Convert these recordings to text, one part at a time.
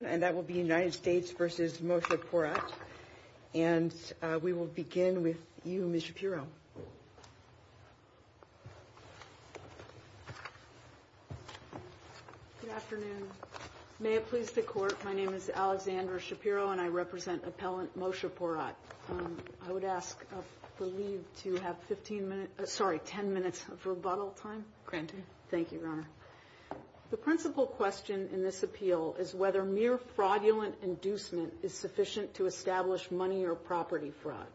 and that will be United States v. Moshe Porat. And we will begin with you, Ms. Shapiro. Good afternoon. May it please the court, my name is Alexandra Shapiro and I represent appellant Moshe Porat. I would ask the lead to have 15 minutes, sorry, 10 minutes of rebuttal granted. Thank you, Your Honor. The principal question in this appeal is whether mere fraudulent inducement is sufficient to establish money or property fraud.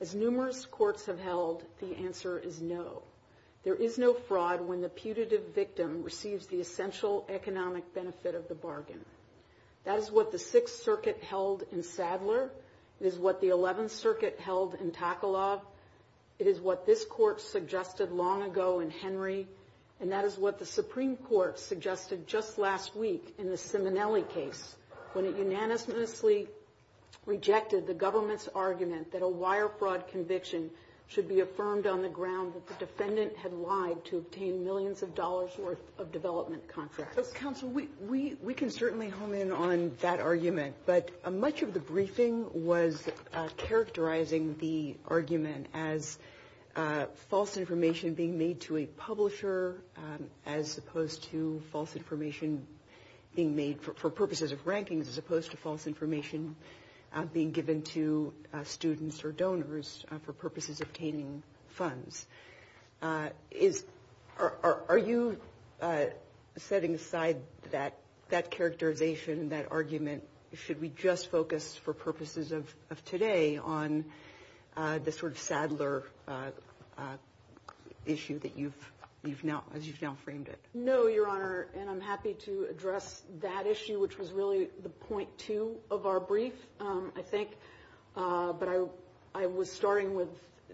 As numerous courts have held, the answer is no. There is no fraud when the putative victim receives the essential economic benefit of the bargain. That is what the Sixth Circuit held in Sadler. It is what the Eleventh Henry and that is what the Supreme Court suggested just last week in the Simonelli case when it unanimously rejected the government's argument that a wire fraud conviction should be affirmed on the grounds that the defendant had lied to obtain millions of dollars worth of development contracts. Counsel, we can certainly hone in on that argument, but much of the briefing was characterizing the argument as false information being made to a publisher as opposed to false information being made for purposes of ranking as opposed to false information being given to students or donors for purposes of obtaining funds. Are you setting aside that characterization, that argument, should we just focus for purposes of today on the sort of Sadler issue that you've now framed it? No, Your Honor, and I'm happy to address that issue, which was really the point two of our brief, I think, but I was starting with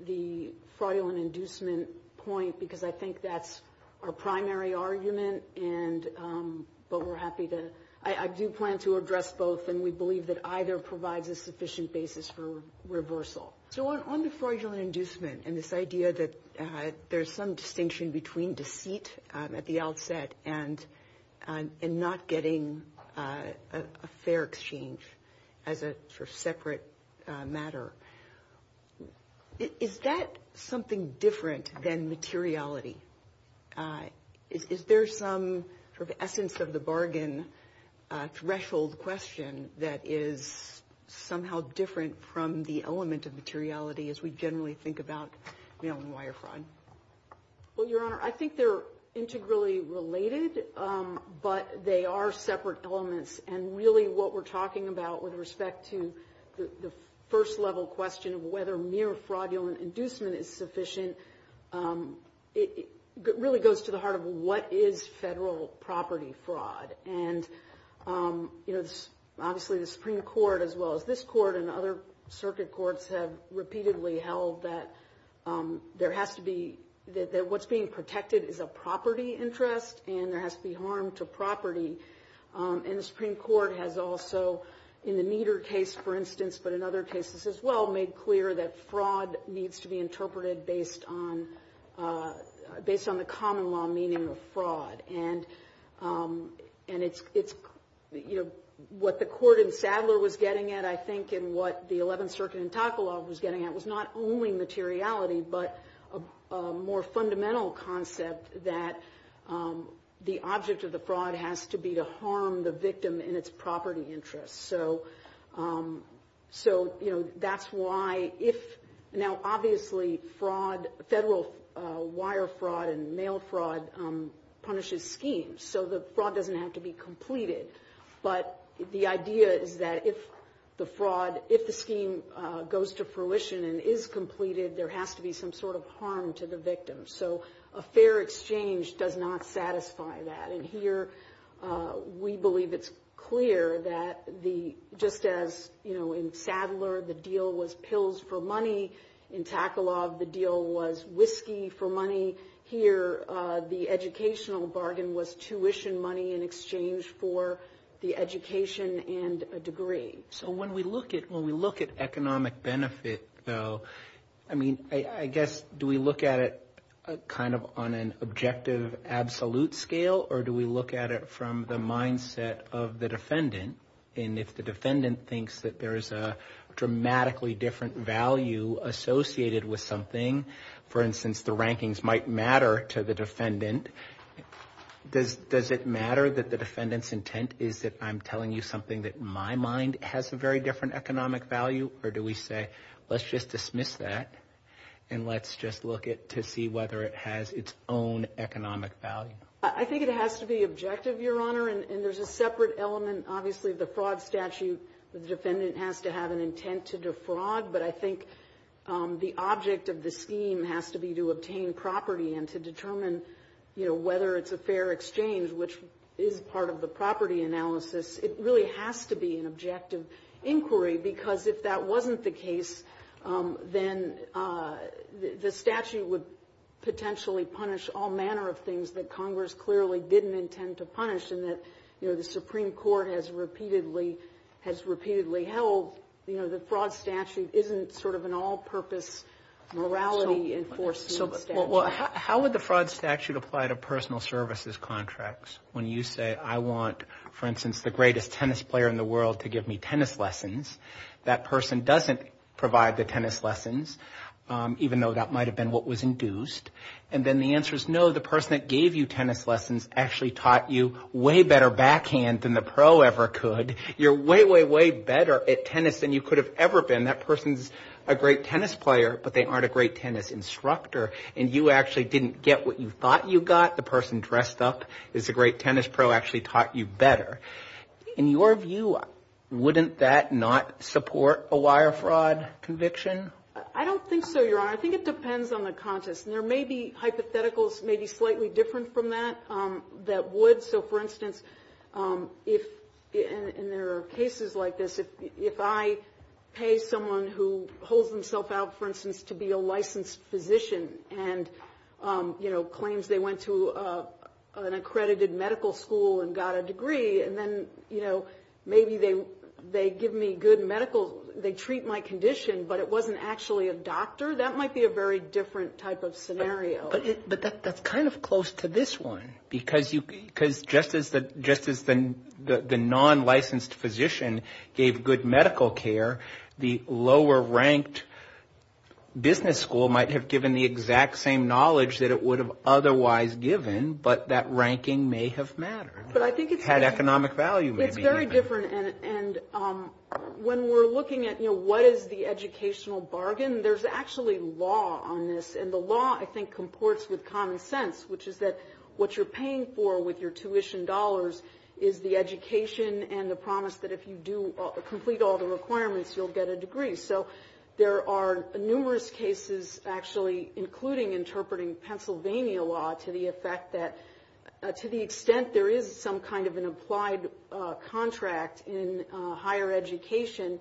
the fraudulent inducement point because I think that's our primary argument, but we're happy to, I do plan to address both, and we believe that either provides a sufficient basis for reversal. So on the fraudulent inducement and this idea that there's some distinction between deceit at the outset and not getting a fair exchange as a sort of separate matter, is that something different than materiality? Is there some sort of essence of the bargain threshold question that is somehow different from the element of materiality as we generally think about mail and wire fraud? Well, Your Honor, I think they're integrally related, but they are separate elements, and really what we're talking about with respect to the first level question of whether mere fraudulent inducement is sufficient, it really goes to the heart of what is federal property fraud? And, you know, obviously the Supreme Court as well as this court and other circuit courts have repeatedly held that there has to be, that what's being protected is a property interest and there has to be harm to property. And the Supreme Court has also, in the Nieder case, for instance, but in other cases as well, made clear that fraud needs to be interpreted based on the common law meaning of fraud. And it's, you know, what the court in Sadler was getting at, I think, and what the 11th Circuit was getting at was not only materiality, but a more fundamental concept that the object of the fraud has to be to harm the victim and its property interest. So, you know, that's why if now obviously fraud, federal wire fraud and mail fraud punishes schemes, so the fraud doesn't have to be completed. But the idea is that if the fraud, if the scheme goes to fruition and is completed, there has to be some sort of harm to the victim. So a fair exchange does not satisfy that. And here we believe it's clear that the, just as, you know, in Sadler the deal was pills for money, in Takalov the deal was whiskey for money, here the educational bargain was tuition money in exchange for the education and a degree. So when we look at, when we look at economic benefit though, I mean, I guess, do we look at it kind of on an objective absolute scale or do we look at it from the mindset of the defendant? And if the defendant thinks that there's a dramatically different value associated with something, for instance, the rankings might matter to the defendant, does it matter that the defendant's intent is that I'm telling you something that my mind has a very different economic value or do we say let's just dismiss that and let's just look at to see whether it has its own economic value? I think it has to be objective, your honor, and there's a separate element. Obviously the fraud statute, the defendant has to have an intent to defraud, but I think the object of the scheme has to be to obtain property and to determine, you know, whether it's a fair exchange, which is part of the property analysis. It really has to be an objective inquiry because if that wasn't the case, then the statute would potentially punish all manner of things that Congress clearly didn't intend to punish and that, you know, the Supreme Court has repeatedly, has repeatedly held, you know, the fraud statute isn't sort of an all-purpose morality enforcement. Well, how would the fraud statute apply to personal services contracts when you say I want, for instance, the greatest tennis player in the world to give me tennis lessons, that person doesn't provide the tennis lessons, even though that might have been what was induced, and then the answer is no, the person that gave you tennis lessons actually taught you way better backhand than the pro ever could, you're way, way, way better at tennis than you could have ever been, that person's a great tennis player, but they aren't a great tennis instructor, and you actually didn't get what you thought you got, the person dressed up as a great tennis pro actually taught you better. In your view, wouldn't that not support a wire fraud conviction? I don't think so, Your Honor, I think it depends on the context, and there may be hypotheticals, maybe slightly different from that, that would, so for instance, if, and there are cases like this, if I pay someone who holds himself out, for instance, to be a licensed physician, and, you know, claims they went to an accredited medical school and got a degree, and then, you know, maybe they give me good medical, they treat my condition, but it wasn't actually a doctor, that might be a very different type of scenario. But that's kind of close to this one, because you, because just as the, just as the non-licensed physician gave good medical care, the lower-ranked business school might have given the exact same knowledge that it would have otherwise given, but that ranking may have mattered, had economic value. It's very different, and when we're looking at, you know, what is the educational bargain, there's actually law on this, and the law, I think, comports with common sense, which is that what you're paying for with your tuition dollars is the education and the promise that if you do complete all the requirements, you'll get a degree. So there are numerous cases, actually, including interpreting Pennsylvania law to the effect that, to the extent there is some kind of an applied contract in higher education,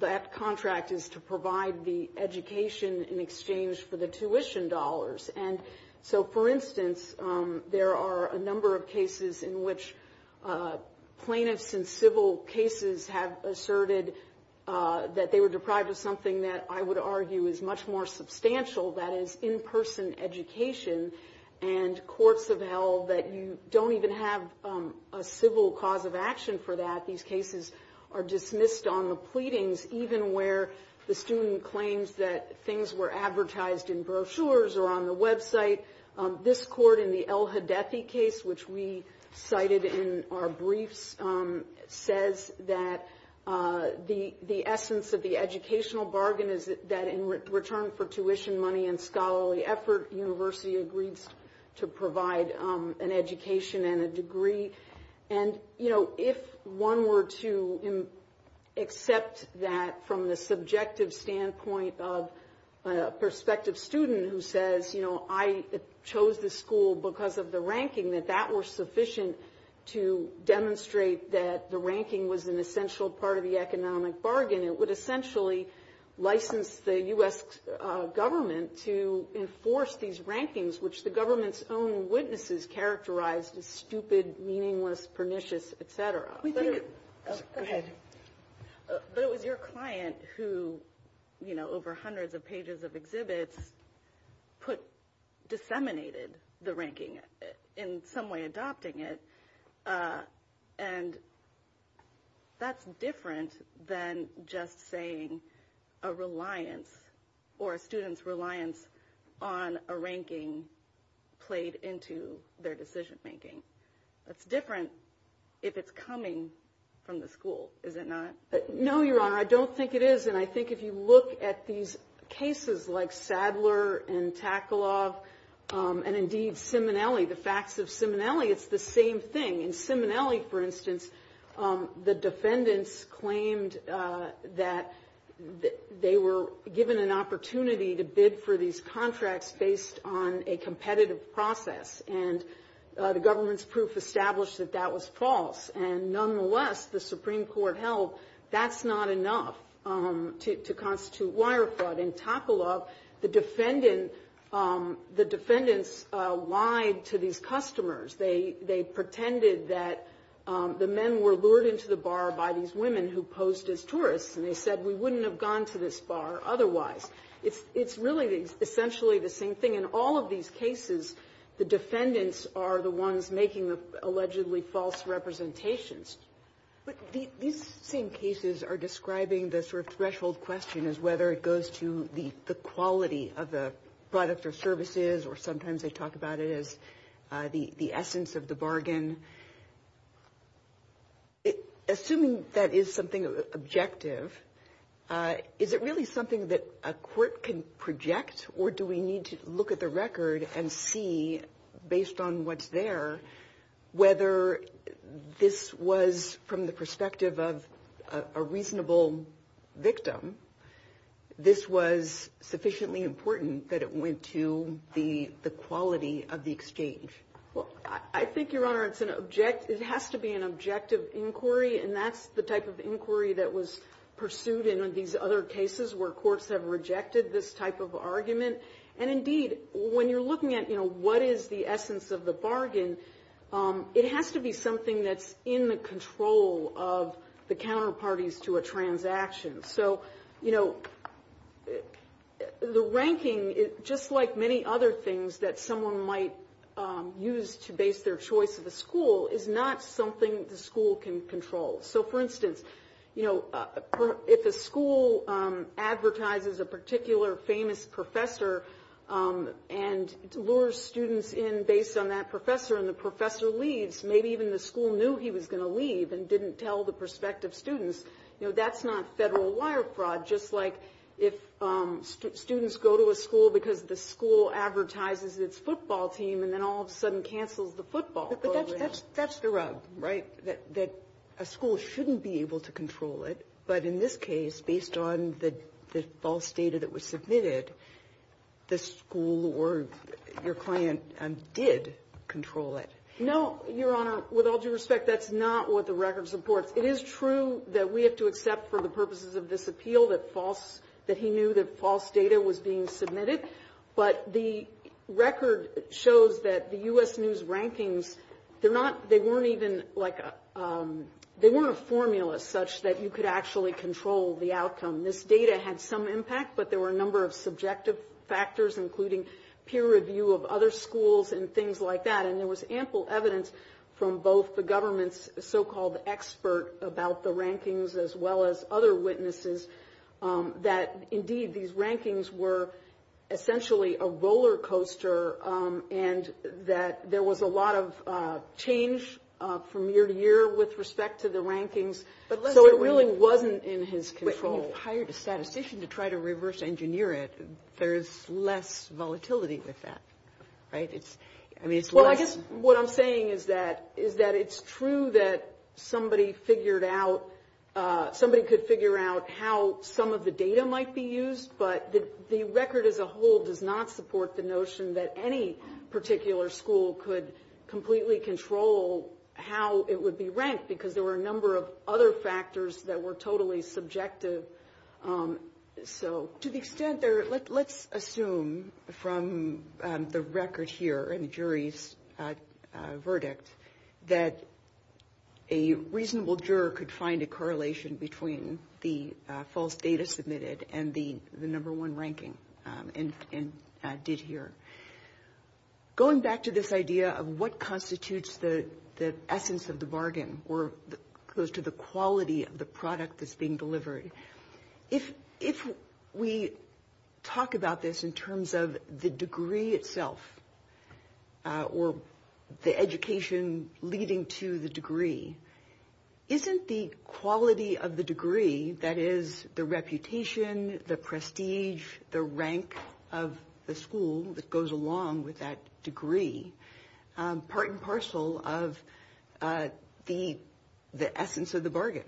that contract is to provide the education in exchange for the tuition dollars. And so, for instance, there are a number of cases in which plaintiffs in civil cases have asserted that they were deprived of something that I would argue is much more substantial, that is, in-person education, and courts have held that you don't even have a civil cause of action for that, these cases are dismissed on the pleadings, even where the student claims that things were advertised in brochures or on the website. This court in the El-Hadethi case, which we cited in our briefs, says that the essence of the educational bargain is that in return for tuition, money, and scholarly effort, the university agrees to provide an education and a degree. And, you know, if one were to accept that from the subjective standpoint of a prospective student who says, you know, I chose this school because of the ranking, that that were sufficient to demonstrate that the ranking was an essential part of the economic bargain, it would essentially license the U.S. government to enforce these rankings, which the government's own witnesses characterized as stupid, meaningless, pernicious, et cetera. But it was your client who, you know, over hundreds of pages of exhibits put – disseminated the ranking, in some way adopting it, and that's different than just saying a reliance or a student's reliance on a ranking played into their decision making. That's different if it's coming from the school, is it not? No, Your Honor. I don't think it is. And I think if you look at these cases like Sadler and Taklov and, indeed, Simonelli, the facts of Simonelli, it's the same thing. In Simonelli, for instance, the defendants claimed that they were given an opportunity to bid for these contracts based on a competitive process, and the government's proof established that that was false. And nonetheless, the Supreme Court held that's not enough to constitute wire fraud. In Taklov, the defendants lied to these customers. They pretended that the men were lured into the bar by these women who posed as tourists, and they said we wouldn't have gone to this bar otherwise. It's really essentially the same thing. In all of these cases, the defendants are the ones making the allegedly false representations. But these same cases are describing the sort of threshold question as whether it goes to the quality of the products or services, or sometimes they talk about it as the essence of the bargain. Assuming that is something objective, is it really something that a court can project, or do we need to look at the record and see, based on what's there, whether this was, from the perspective of a reasonable victim, this was sufficiently important that it went to the quality of the exchange? Well, I think, Your Honor, it has to be an objective inquiry, and that's the type of inquiry that was pursued in these other cases where courts have rejected this type of argument. And indeed, when you're looking at what is the essence of the bargain, it has to be something that's in the control of the counterparties to a transaction. So the ranking, just like many other things that someone might use to base their choice of a school, is not something the school can control. So for instance, if a school advertises a particular famous professor, and lures students in based on that professor, and the professor leaves, maybe even the school knew he was going to leave and didn't tell the prospective students, you know, that's not federal wire fraud. Just like if students go to a school because the school advertises its football team, and then all of a sudden cancels the football program. That's the rub, right? That a school shouldn't be able to control it. But in this case, based on the false data that was submitted, the school or your client did control it. No, Your Honor. With all due respect, that's not what the records report. It is true that we have to accept for the purposes of this appeal that false, that he knew that false data was being submitted. But the record shows that the U.S. News rankings, they're not, they weren't even like, they weren't a formula such that you could actually control the outcome. This data had some impact, but there were a number of subjective factors, including peer review of other schools and things like that. And there was ample evidence from both the government's so-called expert about the rankings, as well as other witnesses, that indeed these rankings were essentially a roller coaster, and that there was a lot of change from year to year with respect to the rankings. So it really wasn't in his control. But he hired a statistician to try to reverse engineer it. There's less volatility with that, right? It's, I mean, it's less... Well, I guess what I'm saying is that, is that it's true that somebody figured out, somebody could figure out how some of the data might be used, but the record as a whole does not support the notion that any particular school could completely control how it would be ranked, because there were a number of other factors that were totally subjective. So to the extent there, let's assume from the record here and jury's verdicts, that a reasonable juror could find a correlation between the false data submitted and the number one ranking, and did here. Going back to this idea of what constitutes the essence of the bargain, or goes to the quality of the product that's being delivered. If we talk about this in terms of the degree itself, or the education leading to the degree, isn't the quality of the degree, that is the reputation, the prestige, the rank of the school that goes along with that degree, part and parcel of the essence of the bargain?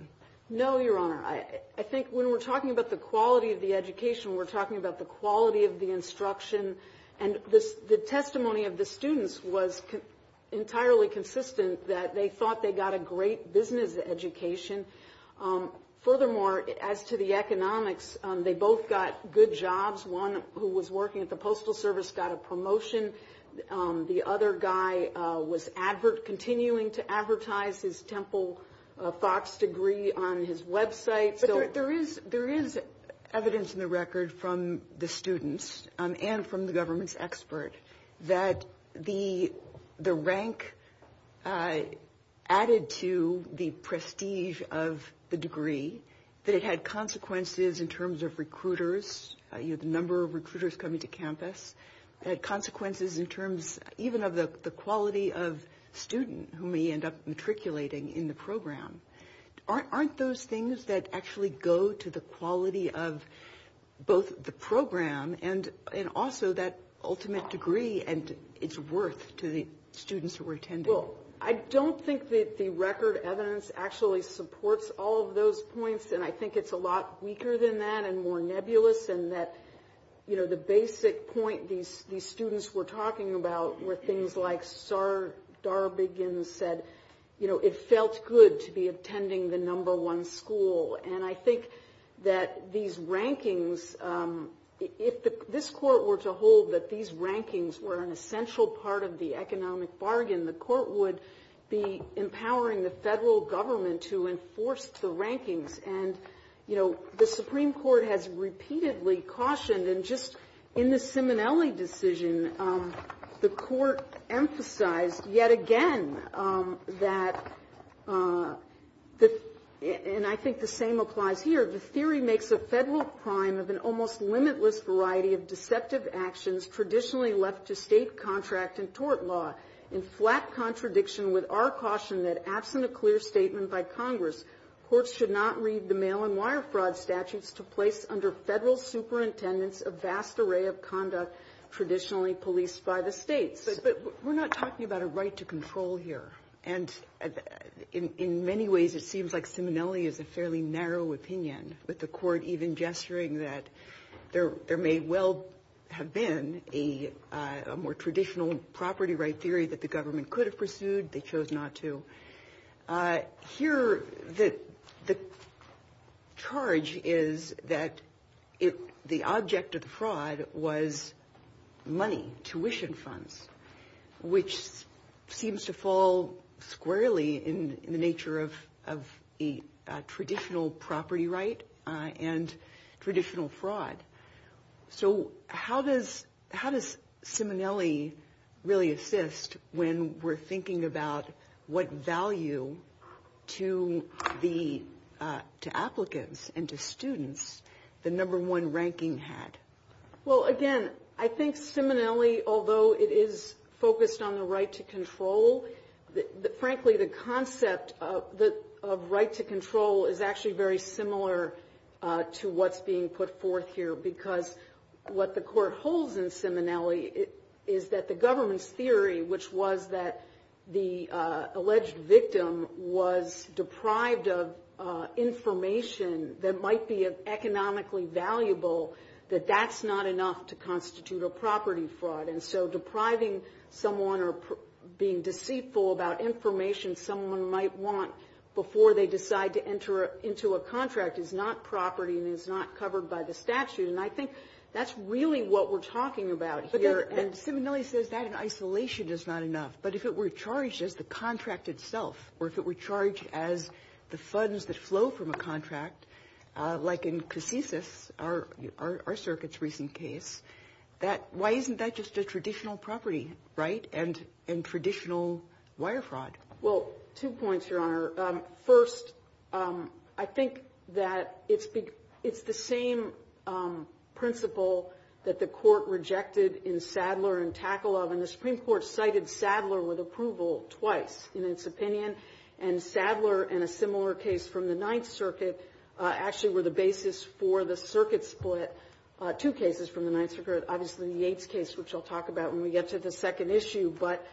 No, Your Honor. I think when we're talking about the quality of the education, we're talking about the quality of the instruction. And the testimony of the students was entirely consistent that they thought they got a great business education. Furthermore, as to the economics, they both got good jobs. One who was working at the Postal Service got a promotion. The other guy was continuing to advertise his Temple Fox degree on his website. There is evidence in the record from the students and from the government's expert that the rank added to the prestige of the degree, that it had consequences in terms of recruiters. You have a number of recruiters coming to campus. It had consequences in terms even of the quality of student who may end up matriculating in the program. Aren't those things that actually go to the quality of both the program and also that ultimate degree and its worth to the students who were attending? Well, I don't think that the record evidence actually supports all of those points. And I think it's a lot weaker than that and more nebulous in that, you know, the basic point these students were talking about were things like Darbigan said, you know, it felt good to be attending the number one school. And I think that these rankings, if this court were to hold that these rankings were an essential part of the economic bargain, the court would be empowering the federal government to enforce the rankings. And, you know, the Supreme Court has repeatedly cautioned and just in the Simonelli decision, the court emphasized yet again that, and I think the same applies here, the theory makes a federal crime of an almost limitless variety of deceptive actions traditionally left to state contract and tort law. In flat contradiction with our caution that acts in a clear statement by Congress, courts should not read the mail and wire fraud statutes to place under federal superintendents a vast array of conduct traditionally policed by the state. But we're not talking about a right to control here. And in many ways, it seems like Simonelli is a fairly narrow opinion, with the court even gesturing that there may well have been a more traditional property right theory that the government could have pursued. They chose not to. Here, the charge is that the object of fraud was money, tuition funds, which seems to fall squarely in the nature of a traditional property right and traditional fraud. So how does Simonelli really assist when we're thinking about what value to the applicants and to students the number one ranking had? Well, again, I think Simonelli, although it is focused on the right to control, frankly, the concept of right to control is actually very similar to what's being put forth here. Because what the court holds in Simonelli is that the government's theory, which was that the alleged victim was deprived of information that might be economically valuable, that that's not enough to constitute a property fraud. And so depriving someone or being deceitful about information someone might want before they decide to enter into a contract is not property and is not covered by the statute. And I think that's really what we're talking about here. And Simonelli says that in isolation is not enough. But if it were charged as the contract itself, or if it were charged as the funds that flow from a contract, like in Cassisis, our circuit's recent case, why isn't that just a traditional property, right, and traditional wire fraud? Well, two points, Your Honor. First, I think that it's the same principle that the court rejected in Sadler and Takalov. And the Supreme Court cited Sadler with approval twice in its opinion. And Sadler and a similar case from the Ninth Circuit actually were the basis for the circuit split. Two cases from the Ninth Circuit, obviously the Yates case, which I'll talk about when we get to the second issue. But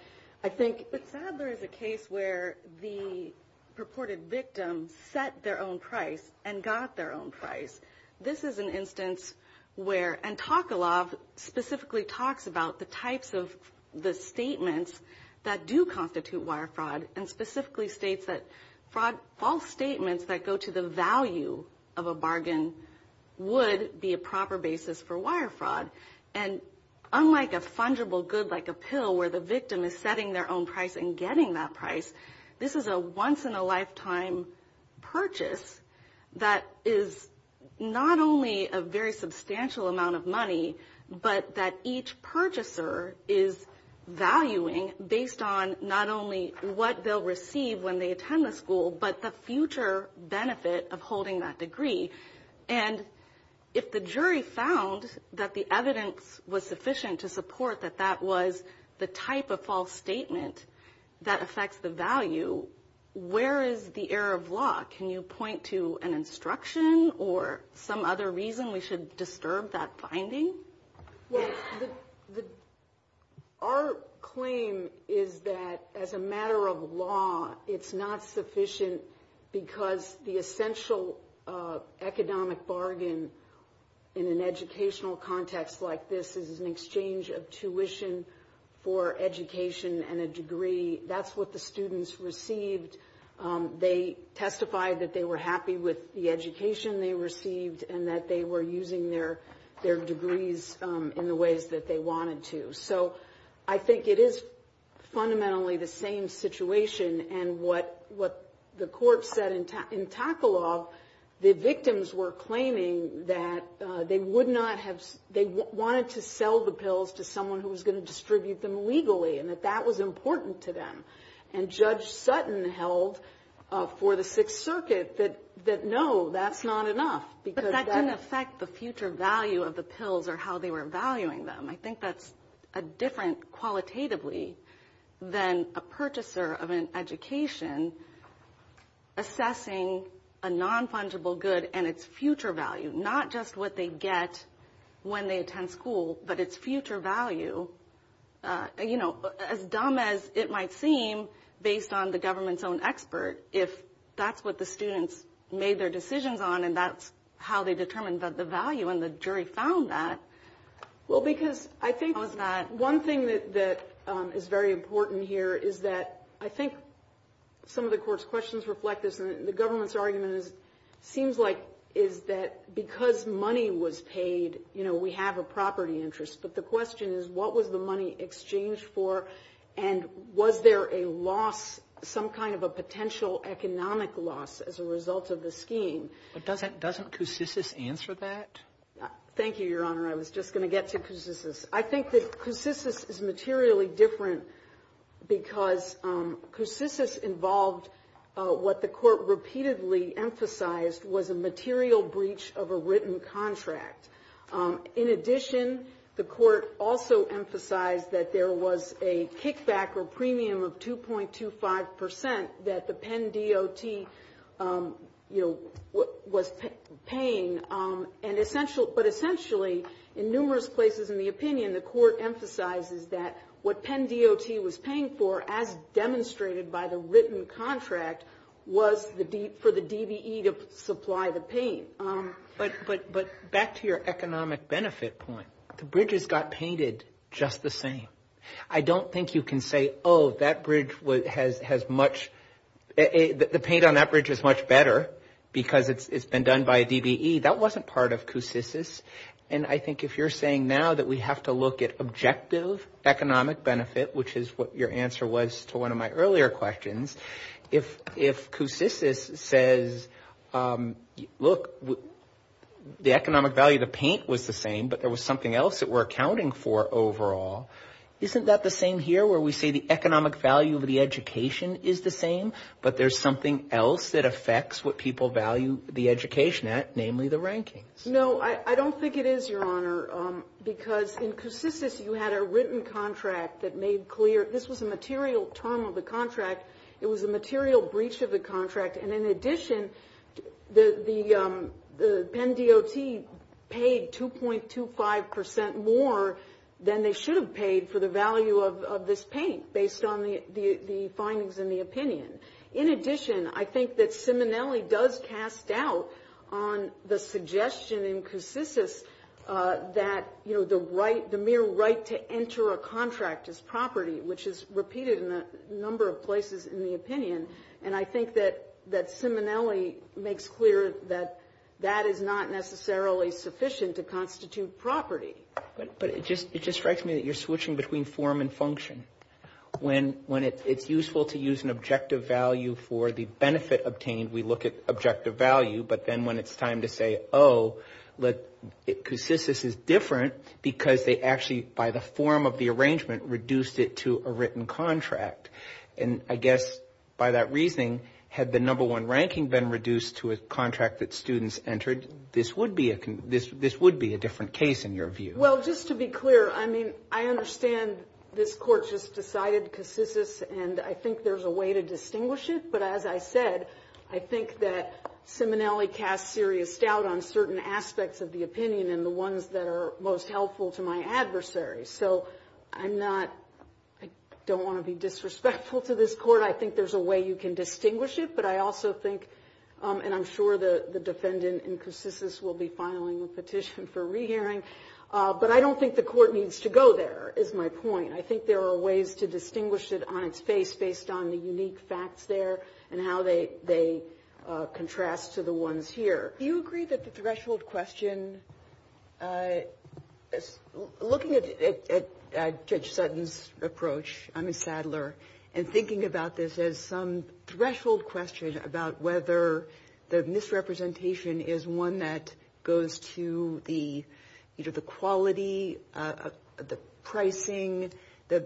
I think Sadler is a case where the purported victim set their own price and got their own price. This is an instance where – and Takalov specifically talks about the types of the statements that do constitute wire fraud and specifically states that fraud – false statements that go to the value of a bargain would be a proper basis for wire fraud. And unlike a fungible good like a pill where the victim is setting their own price and getting that price, this is a once-in-a-lifetime purchase that is not only a very substantial amount of money, but that each purchaser is valuing based on not only what they'll receive when they attend the But if the evidence was sufficient to support that that was the type of false statement that affects the value, where is the error of law? Can you point to an instruction or some other reason we should disturb that finding? Well, our claim is that as a matter of law, it's not sufficient because the essential economic bargain in an educational context like this is an exchange of tuition for education and a degree. That's what the students received. They testified that they were happy with the education they received and that they were using their degrees in the ways that they wanted to. So I think it is fundamentally the same situation. And what the court said in Takalov, the victims were claiming that they wanted to sell the pills to someone who was going to distribute them legally and that that was important to them. And Judge Sutton held for the Sixth Circuit that no, that's not enough. But that didn't affect the future value of the pills or how they were valuing them. I think that's a different qualitatively than a purchaser of an education assessing a non-fungible good and its future value, not just what they get when they attend school, but its future value. You know, as dumb as it might seem based on the government's own expert, if that's what the students made their decisions on and that's how they determined that the value and the jury found that. Well, because I think one thing that is very important here is that I think some of the court's questions reflect this. The government's argument seems like is that because money was paid, you know, we have a property interest. But the question is, what was the money exchanged for? And was there a loss, some kind of a potential economic loss as a result of the scheme? But doesn't Koussissis answer that? Thank you, Your Honor. I was just going to get to Koussissis. I think that Koussissis is materially different because Koussissis involved what the court repeatedly emphasized was a material breach of a written contract. In addition, the court also emphasized that there was a kickback or premium of 2.25% that the essentially, in numerous places in the opinion, the court emphasizes that what Penn DOT was paying for as demonstrated by the written contract was for the DVE to supply the paint. But back to your economic benefit point, the bridges got painted just the same. I don't think you can say, oh, that bridge has much, the paint on that bridge is much better because it's been done by a DVE. That wasn't part of Koussissis. And I think if you're saying now that we have to look at objective economic benefit, which is what your answer was to one of my earlier questions, if Koussissis says, look, the economic value of the paint was the same, but there was something else that we're accounting for overall, isn't that the same here where we see the economic value of the education is the same, but there's something else that affects what people value the education at, namely the ranking. No, I don't think it is, Your Honor, because in Koussissis you had a written contract that made clear this was a material term of the contract. It was a material breach of the contract. And in addition, the Penn DOT paid 2.25% more than they should have paid for the value of this paint based on the findings in the opinion. In addition, I think that Simonelli does cast doubt on the suggestion in Koussissis that the mere right to enter a contract is property, which is repeated in a number of places in the opinion. And I think that Simonelli makes clear that that is not necessarily sufficient to constitute property. But it just strikes me that you're switching between form and function when it's useful to use an objective value for the benefit obtained. We look at objective value, but then when it's time to say, oh, Koussissis is different because they actually, by the form of the arrangement, reduced it to a written contract. And I guess by that reasoning, had the number one ranking been reduced to a contract that students entered, this would be a different case in your view. Well, just to be clear, I mean, I understand this Court just decided Koussissis and I think there's a way to distinguish it. But as I said, I think that Simonelli cast serious doubt on certain aspects of the opinion and the ones that are most helpful to my adversaries. So I'm not, I don't want to be disrespectful to this Court. I think there's a way you can distinguish it. But I also think, and I'm sure the defendant in Koussissis will be filing a petition for rehearing. But I don't think the Court needs to go there, is my point. I think there are ways to distinguish it on its face based on the unique facts there and how they contrast to the ones here. Do you agree that the threshold question, looking at Judge Sutton's approach, I mean Sadler, and thinking about this as some threshold question about whether the misrepresentation is one that goes to the quality, the pricing, the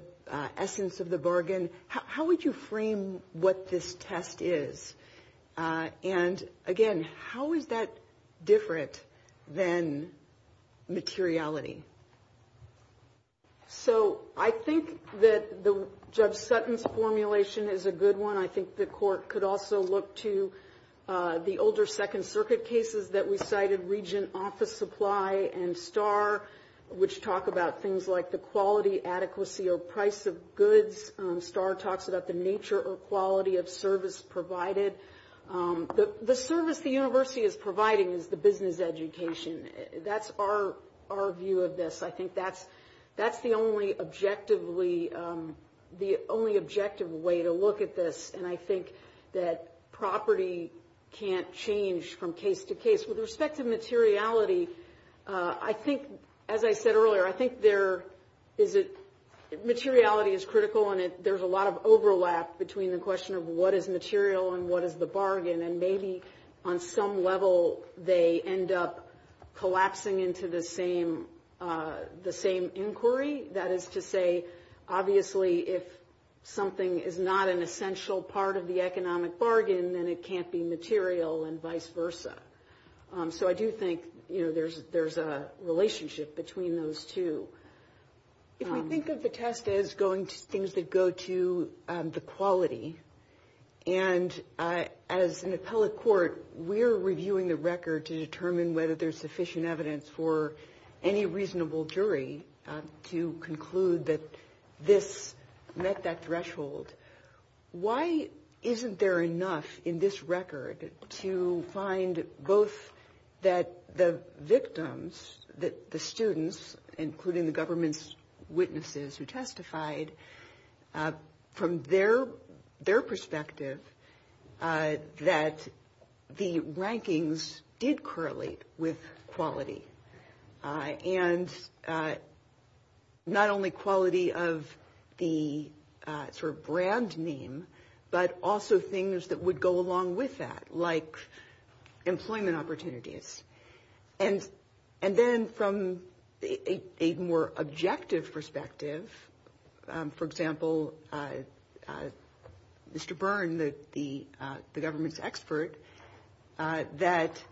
essence of the bargain, how would you frame what this test is? And again, how is that different than materiality? So I think that Judge Sutton's formulation is a good one. I think the Court could also look to the older Second Circuit cases that recited region office supply and STAR, which talk about things like the quality, adequacy, or price of goods. STAR talks about the nature or quality of service provided. The service the university is providing is the business education. That's our view of this. I think that's the only objective way to look at this. And I think that property can't change from case to case. With respect to materiality, I think, as I said earlier, I think materiality is critical and there's a lot of overlap between the question of what is material and what is the bargain. And maybe on some level, they end up collapsing into the same inquiry. That is to say, obviously, if something is not an essential part of the economic bargain, then it can't be material and vice versa. So I do think there's a relationship between those two. If you think of the test as going to things that go to the quality, and as an appellate court, we're reviewing the record to determine whether there's sufficient evidence for any reasonable jury to conclude that this met that threshold, why isn't there enough in this record to find both that the victims, the students, including the government's witnesses who testified, from their perspective, that the rankings did correlate with quality. And not only quality of the sort of brand name, but also things that would go along with that, like employment opportunities. And then from a more objective perspective, for example, Mr. Byrne, the government's that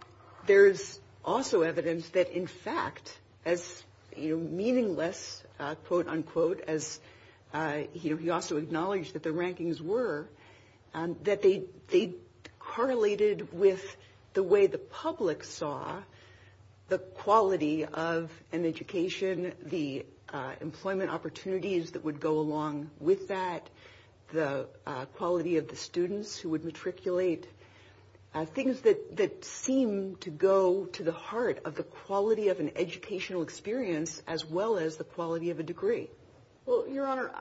there's also evidence that, in fact, as meaningless, quote, unquote, as he also acknowledged that the rankings were, that they correlated with the way the public saw the quality of an education, the employment opportunities that would go along with that, the quality of the students who would matriculate, things that seem to go to the heart of the quality of an educational experience, as well as the quality of a degree. Well, Your Honor,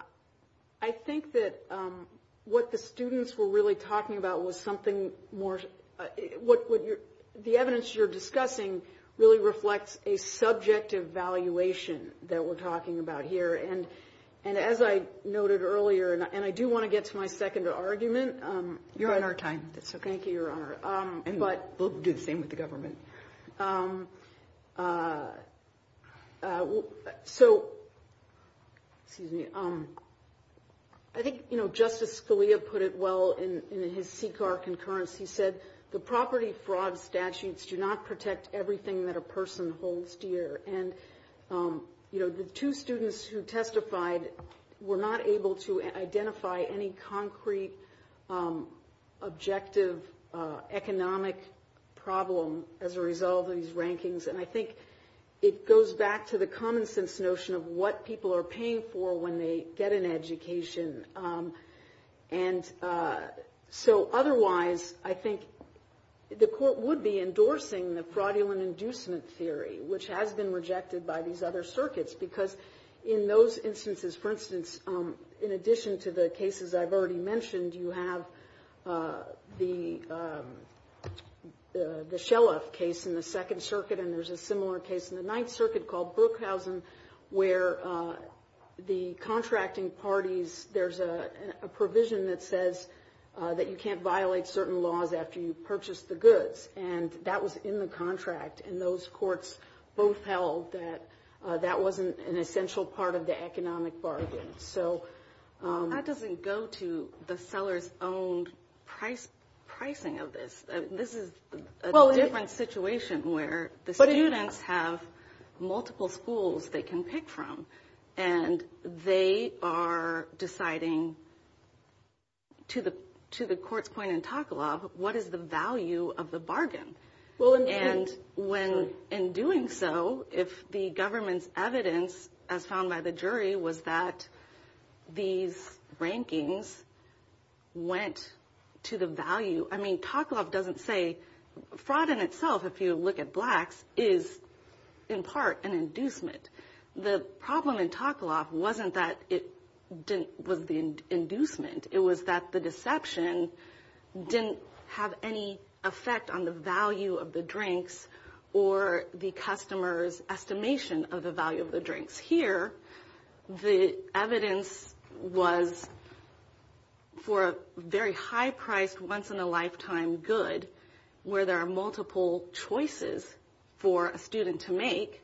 I think that what the students were really talking about was something more, the evidence you're discussing really reflects a subject evaluation that we're talking about here. And as I noted earlier, and I do want to get to my second argument. Your Honor, time. That's okay. Thank you, Your Honor. And we'll do the same with the government. So, excuse me, I think Justice Scalia put it well in his CCAR concurrence. He said, the property fraud statutes do not protect everything that a person holds dear. And the two students who testified were not able to identify any concrete objective economic problem as a result of these rankings. And I think it goes back to the common sense notion of what people are paying for when they get an education. And so, otherwise, I think the court would be endorsing the fraudulent inducement theory, which has been rejected by these other circuits. Because in those instances, for instance, in addition to the cases I've already mentioned, you have the Shellef case in the Second Circuit, and there's a similar case in the Ninth Circuit called Brookhausen, where the contracting parties, there's a provision that says that you can't violate certain laws after you've purchased the goods. And that was in the contract. And those courts both held that that wasn't an essential part of the economic bargain. So, that doesn't go to the seller's own pricing of this. This is a different situation where the students have multiple schools they can pick from. And they are deciding, to the court's point in Takalov, what is the value of the bargain? And in doing so, if the government's evidence, as found by the jury, was that these rankings went to the value – I mean, Takalov doesn't say – fraud in itself, if you look at blacks, is in part an inducement. The problem in Takalov wasn't that it didn't – was the inducement. It was that the deception didn't have any effect on the value of the drinks or the customer's estimation of the value of the drinks. Here, the evidence was for a very high-priced, once-in-a-lifetime good, where there are multiple choices for a student to make.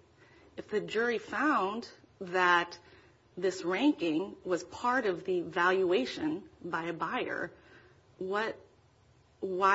If the jury found that this ranking was part of the valuation by a buyer, why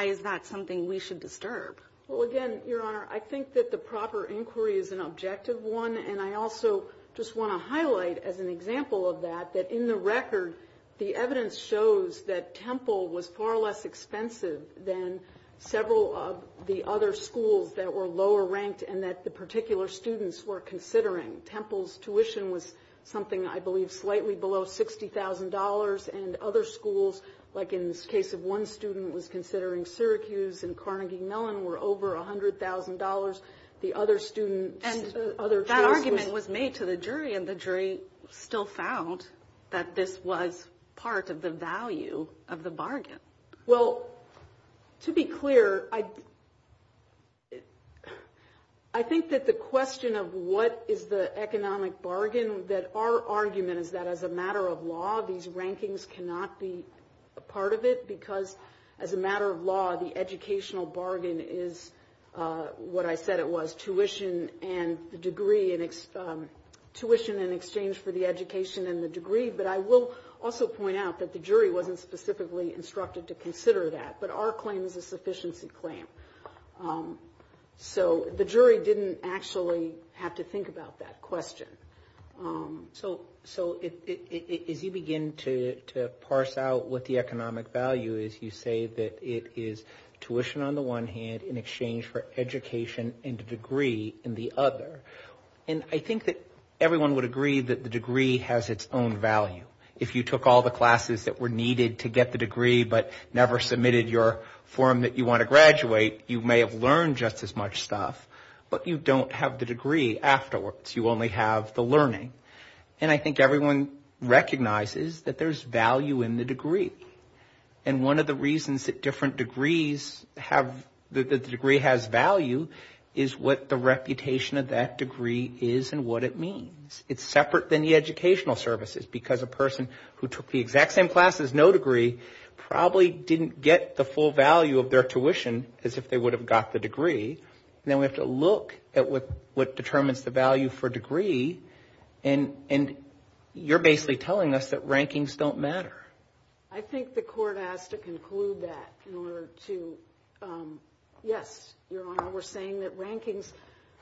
is that something we should disturb? Well, again, Your Honor, I think that the proper inquiry is an objective one. And I also just want to highlight, as an example of that, that in the record, the evidence shows that Temple was far less expensive than several of the other schools that were lower-ranked and that the particular students were considering. Temple's tuition was something, I believe, slightly below $60,000, and other schools, like in the case of one student, was considering Syracuse and Carnegie Mellon, were over $100,000. The other students – And that argument was made to the jury, and the jury still found that this was part of the value of the bargain. Well, to be clear, I think that the question of what is the economic bargain, that our argument is that as a matter of law, these rankings cannot be a part of it, because as a matter of law, the educational bargain is what I said it was, tuition and the degree and – tuition in exchange for the education and the degree. But I will also point out that the jury wasn't specifically instructed to consider that, but our claim is a sufficiency claim. So the jury didn't actually have to think about that question. So if you begin to parse out what the economic value is, you say that it is tuition on the one hand, in exchange for education and degree in the other. And I think that everyone would agree that the degree has its own value. If you took all the classes that were needed to get the degree but never submitted your form that you want to graduate, you may have learned just as much stuff, but you don't have the degree afterwards. You only have the learning. And I think everyone recognizes that there's value in the degree. And one of the reasons that different degrees have – that the degree has value is what the reputation of that degree is and what it means. It's separate than the educational services because a person who took the exact same class as no degree probably didn't get the full value of their tuition as if they would have got the degree. Now we have to look at what determines the value for degree and you're basically telling us that rankings don't matter. I think the court has to conclude that in order to – yes, Your Honor, we're saying that rankings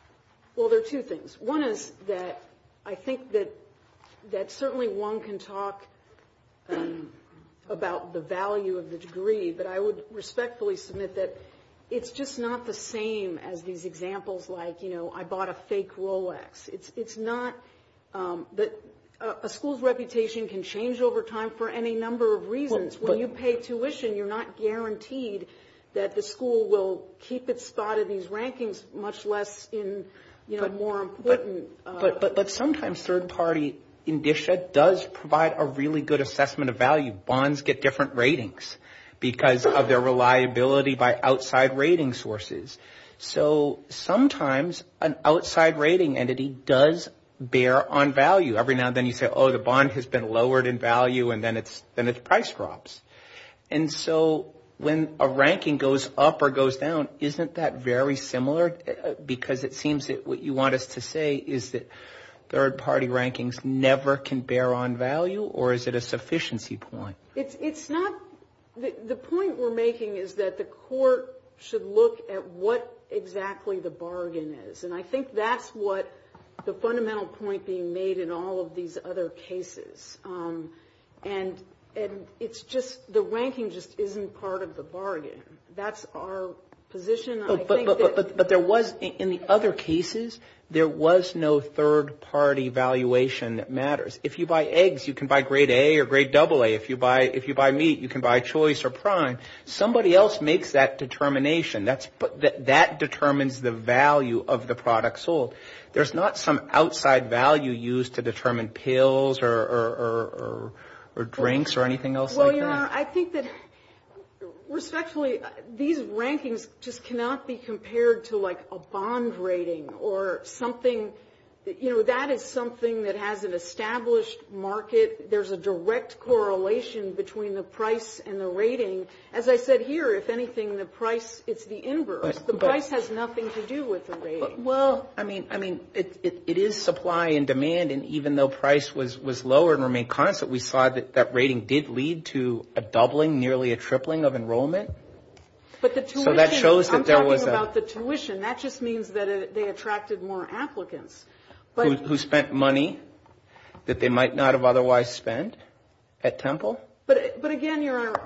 – well, there are two things. One is that I think that certainly one can talk about the value of the degree, but I would respectfully submit that it's just not the same as these examples like, you know, I bought a fake Rolex. It's not – a school's reputation can change over time for any number of reasons. When you pay tuition, you're not guaranteed that the school will keep its spot in these rankings, much less in, you know, more important – But sometimes third party does provide a really good assessment of value. Bonds get different ratings because of their reliability by outside rating sources. So sometimes an outside rating entity does bear on value. Every now and then you say, oh, the bond has been lowered in value and then its price drops. And so when a ranking goes up or goes down, isn't that very similar because it seems that what you want us to say is that third party rankings never can bear on value or is it a sufficiency point? It's not – the point we're making is that the court should look at what exactly the bargain is. And I think that's what the fundamental point being made in all of these other cases. And it's just – the ranking just isn't part of the bargain. That's our position. But there was – in the other cases, there was no third party valuation that matters. If you buy eggs, you can buy grade A or grade AA. If you buy meat, you can buy choice or prime. Somebody else makes that determination. That determines the value of the product sold. There's not some outside value used to determine pills or drinks or anything else like that? Well, you know, I think that – especially these rankings just cannot be compared to like a bond rating or something – you know, that is something that has an established market. There's a direct correlation between the price and the rating. As I said here, if anything, the price is the inverse. The price has nothing to do with the rating. Well, I mean, it is supply and demand. And even though price was lower and remained constant, we saw that that rating did lead to a doubling, nearly a tripling of enrollment. But the tuition – So that shows that there was a – I'm talking about the tuition. That just means that they attracted more applicants. Who spent money that they might not have otherwise spent at Temple. But again, Your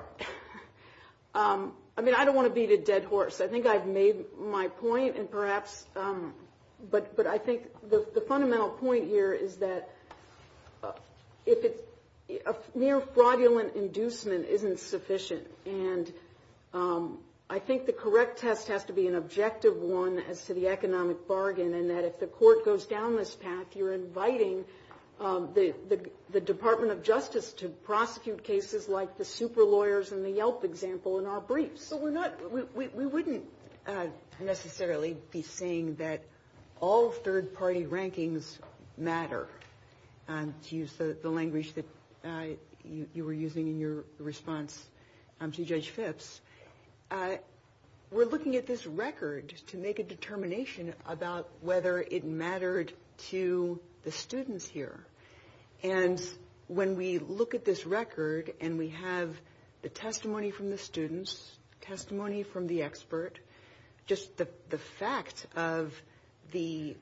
Honor, I mean, I don't want to beat a dead horse. I think I've made my point, and perhaps – but I think the fundamental point here is that a mere fraudulent inducement isn't sufficient. And I think the correct test has to be an objective one as to the economic bargain, and that if the court goes down this path, you're inviting the Department of Justice to prosecute cases like the super lawyers and the Yelp example in our briefs. We're not – we wouldn't necessarily be saying that all third-party rankings matter, to use the language that you were using in your response to Judge Phipps. We're looking at this record to make a determination about whether it mattered to the students here. And when we look at this record and we have the testimony from the students, testimony from the expert, just the fact of the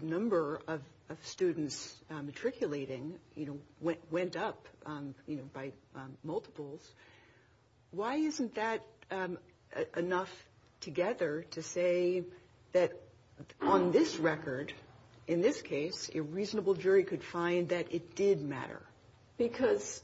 number of students matriculating went up by multiples. Why isn't that enough together to say that on this record, in this case, a reasonable jury could find that it did matter? Because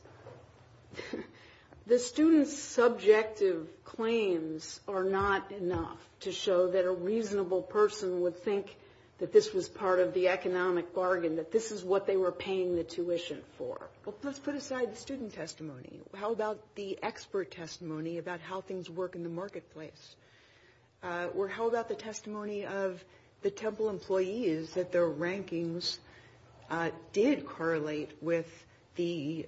the students' subjective claims are not enough to show that a reasonable person would think that this was part of the economic bargain, that this is what they were paying the tuition for. Let's put aside the student testimony. How about the expert testimony about how things work in the marketplace? Were held at the testimony of the Temple employees that their rankings did correlate with the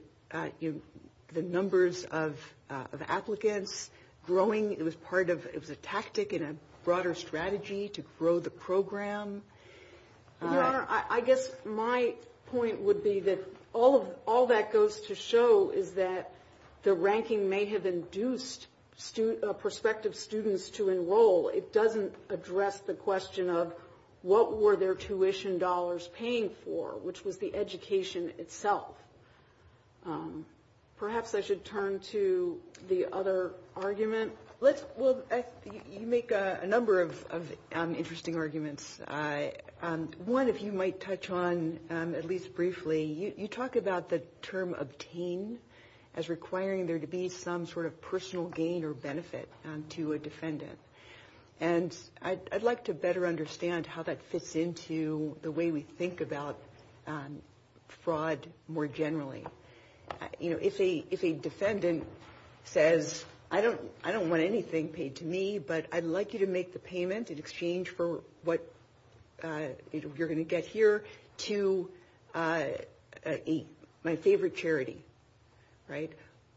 numbers of applicants growing? It was part of – it was a tactic and a broader strategy to grow the program. Your Honor, I guess my point would be that all that goes to show is that the ranking may have induced prospective students to enroll. It doesn't address the question of what were their tuition dollars paying for, which was the education itself. Perhaps I should turn to the other argument. Let's – well, you make a number of interesting arguments. One, if you might touch on at least briefly, you talk about the term obtain as requiring there to be some sort of personal gain or benefit to a defendant. And I'd like to better understand how that fits into the way we think about fraud more generally. You know, if a defendant says, I don't want anything paid to me, but I'd like you to make the payment in exchange for what you're going to get here to my favorite charity, right,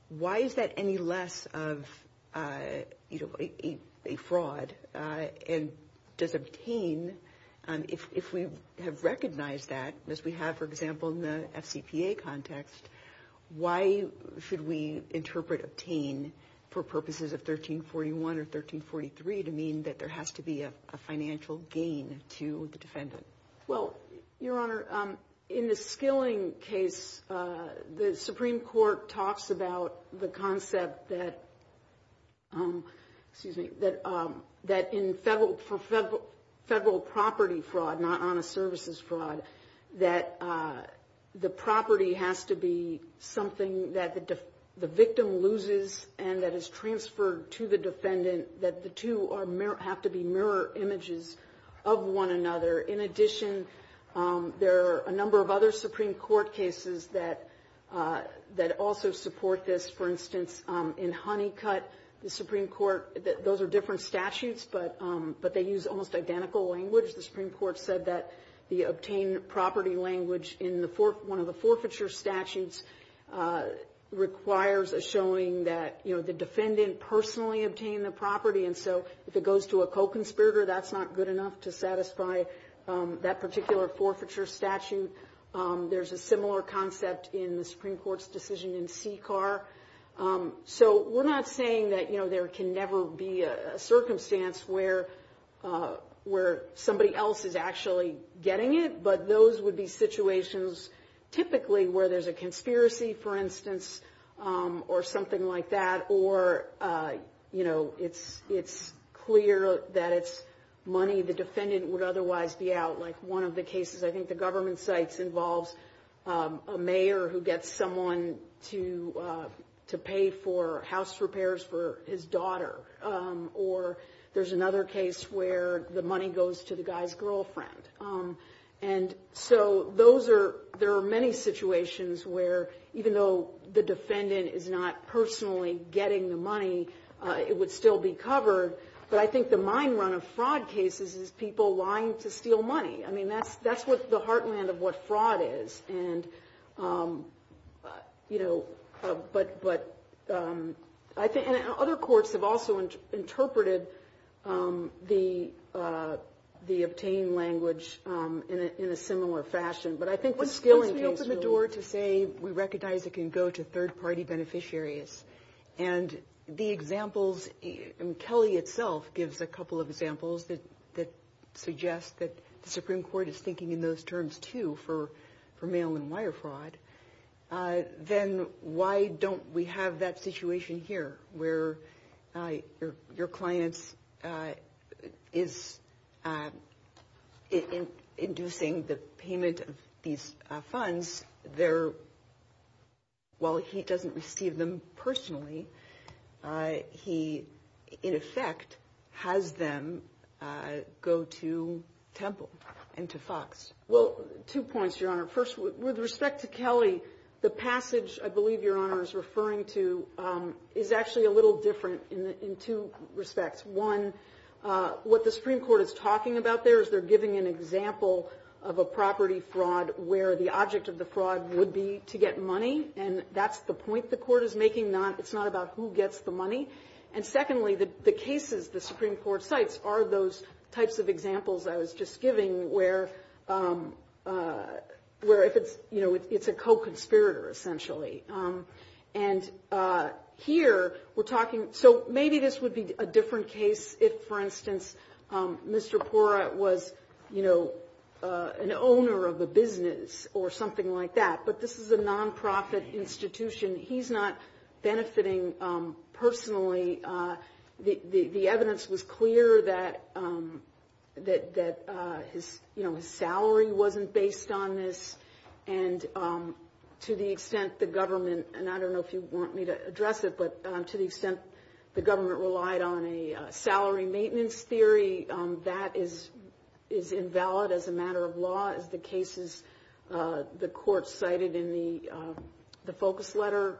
why is that any less of a fraud and does obtain – if we have recognized that, as we have, for example, in the FCPA context, why should we interpret obtain for purposes of 1341 or 1343 to mean that there has to be a financial gain to the defendant? Well, Your Honor, in the Skilling case, the Supreme Court talks about the concept that in federal property fraud, not honest services fraud, that the property has to be something that the victim loses and that is transferred to the defendant, that the two have to be images of one another. In addition, there are a number of other Supreme Court cases that also support this. For instance, in Honeycutt, the Supreme Court – those are different statutes, but they use almost identical language. The Supreme Court said that the obtain property language in one of the forfeiture statutes requires a showing that, you know, the defendant personally obtained the property. And so if it goes to a co-conspirator, that's not good enough to satisfy that particular forfeiture statute. There's a similar concept in the Supreme Court's decision in CCAR. So we're not saying that, you know, there can never be a circumstance where somebody else is actually getting it, but those would be situations typically where there's a clear that it's money the defendant would otherwise be out. Like one of the cases, I think the government cites involves a mayor who gets someone to pay for house repairs for his daughter. Or there's another case where the money goes to the guy's girlfriend. And so those are – there are many situations where even though the defendant is not personally getting the money, it would still be covered. But I think the mind-run of fraud cases is people lying to steal money. I mean, that's what's the heartland of what fraud is. And, you know, but I think – and other courts have also interpreted the obtain language in a similar fashion. But I think the stealing case – we recognize it can go to third-party beneficiaries. And the examples – and Kelly itself gives a couple of examples that suggest that the Supreme Court is thinking in those terms too for mail-and-wire fraud. Then why don't we have that situation here where your client is inducing the payment of these funds, they're – while he doesn't receive them personally, he, in effect, has them go to Temple and to Fox. Well, two points, Your Honor. First, with respect to Kelly, the passage I believe Your Honor is referring to is actually a little different in two respects. One, what the Supreme Court is talking about there is they're giving an example of a property fraud where the object of the fraud would be to get money. And that's the point the court is making. It's not about who gets the money. And secondly, the cases the Supreme Court cites are those types of examples I was just giving where if it's – you know, it's a co-conspirator essentially. And here we're talking – so maybe this would be a different case if, for instance, Mr. Porat was, you know, an owner of a business or something like that. But this is a nonprofit institution. He's not benefiting personally. The evidence was clear that, you know, his salary wasn't based on this. And to the extent the government – and I don't know if you want me to address it, but to the extent the government relied on a salary maintenance theory, that is invalid as a matter of law. As the cases the court cited in the focus letter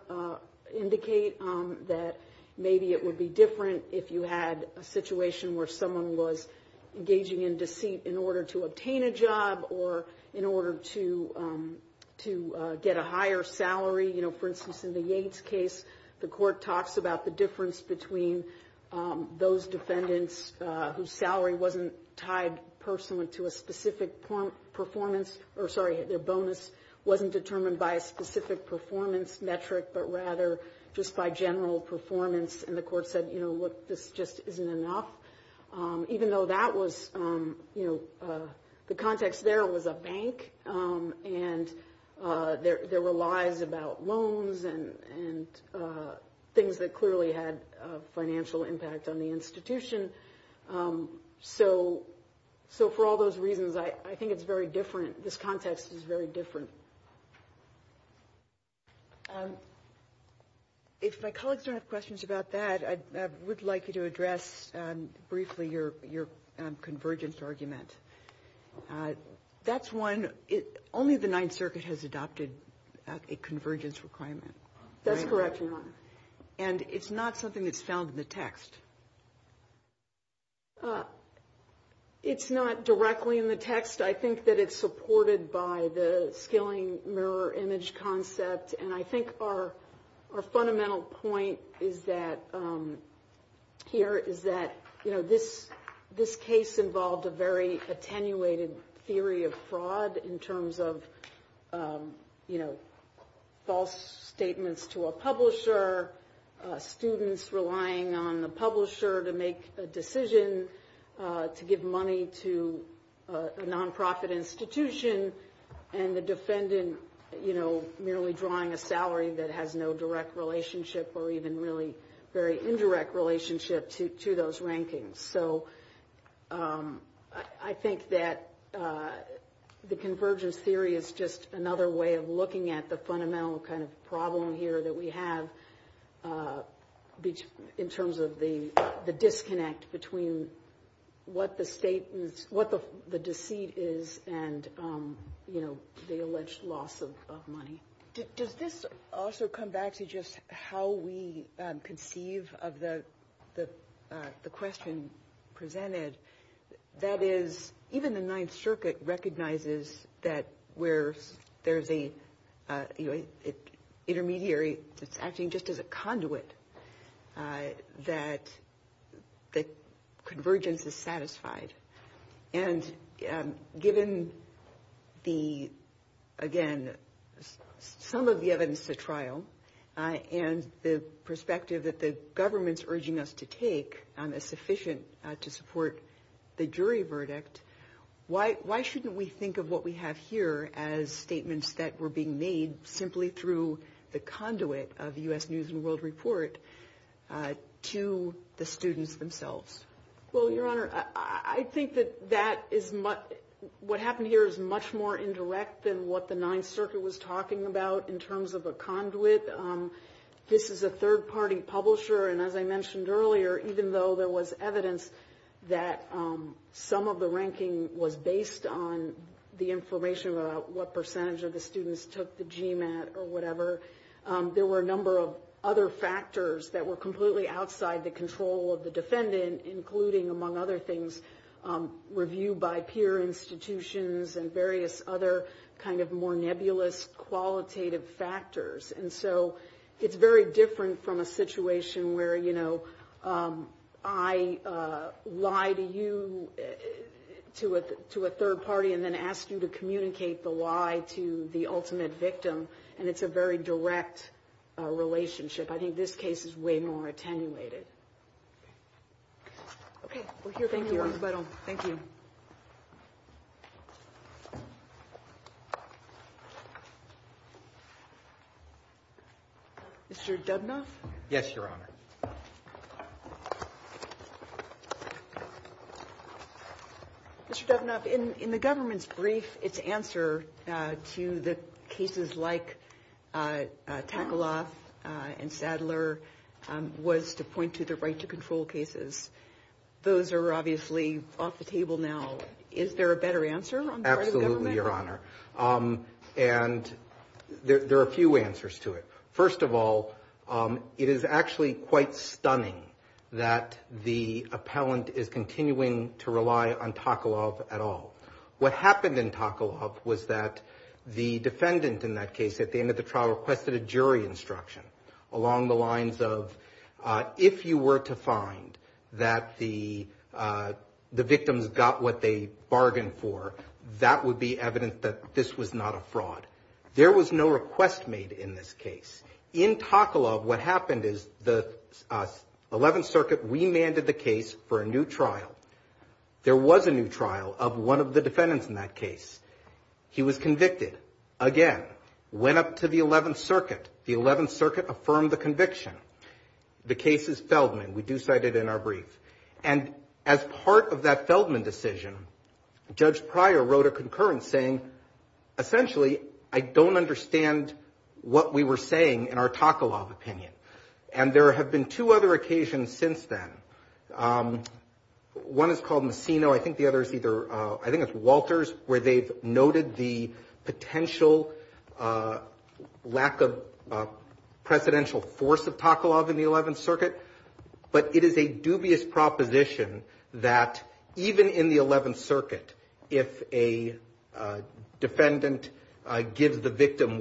indicate that maybe it would be different if you had a situation where someone was engaging in deceit in order to obtain a job or in order to get a higher salary. You know, for instance, in the Yates case, the court talks about the difference between those defendants whose salary wasn't tied personally to a specific performance – or sorry, their bonus wasn't determined by a specific performance metric but rather just by general performance. And the court said, you know, look, this just isn't enough. Even though that was – you know, the context there was a bank and there were lies about loans and things that clearly had a financial impact on the institution. So for all those reasons, I think it's very different. This context is very different. If my colleagues don't have questions about that, I would like you to address briefly your convergence argument. That's one – only the Ninth Circuit has adopted a convergence requirement. That's correct, Your Honor. And it's not something that's found in the text? It's not directly in the text. I think that it's supported by the scaling mirror image concept, and I think our fundamental point is that – here is that, you know, this case involved a very attenuated theory of fraud in terms of, you know, false statements to a publisher, students relying on the publisher to make a decision to give money to a nonprofit institution, and the defendant, you know, merely drawing a salary that has no direct relationship or even really very indirect relationship to those rankings. So I think that the convergence theory is just another way of looking at the fundamental kind of problem here that we have in terms of the disconnect between what the state – what the deceit is and, you know, the alleged loss of money. Does this also come back to just how we conceive of the question presented? That is, even the Ninth Circuit recognizes that where there's a, you know, intermediary that's acting just as a conduit, that the convergence is satisfied. And given the – again, some of the evidence to trial and the perspective that the government's report, the jury verdict, why shouldn't we think of what we have here as statements that were being made simply through the conduit of the U.S. News and World Report to the students themselves? Well, Your Honor, I think that that is – what happened here is much more indirect than what the Ninth Circuit was talking about in terms of a conduit. This is a third-party publisher, and as I mentioned earlier, even though there was evidence that some of the ranking was based on the information about what percentage of the students took the GMAT or whatever, there were a number of other factors that were completely outside the control of the defendant, including, among other things, review by peer institutions and various other kind of more nebulous, qualitative factors. And so it's very different from a situation where, you know, I lie to you – to a third party and then ask you to communicate the lie to the ultimate victim, and it's a very direct relationship. I think this case is way more attenuated. Okay. Thank you. Thank you. Mr. Dubnoff? Yes, Your Honor. Mr. Dubnoff, in the government's brief, its answer to the cases like Takaloff and Sadler was to point to the right-to-control cases. Those are obviously off the table now. Is there a better answer on the part of the government? Absolutely, Your Honor. And there are a few answers to it. First of all, it is actually quite stunning that the appellant is continuing to rely on Takaloff at all. What happened in Takaloff was that the defendant in that case, at the end of the trial, requested a jury instruction along the lines of, if you were to find that the victims got what they bargained for, that would be evidence that this was not a fraud. There was no request made in this case. In Takaloff, what happened is the Eleventh Circuit remanded the case for a new trial. There was a new trial of one of the defendants in that case. He was convicted, again, went up to the Eleventh Circuit. The Eleventh Circuit affirmed the conviction. The case is Feldman. We do cite it in our brief. And as part of that Feldman decision, Judge Pryor wrote a concurrence saying, essentially, I don't understand what we were saying in our Takaloff opinion. And there have been two other occasions since then. One is called Messino. I think the other is either, I think it's Walters, where they've noted the potential lack of presidential force of Takaloff in the Eleventh Circuit. But it is a dubious proposition that even in the Eleventh Circuit, if a defendant gives the victim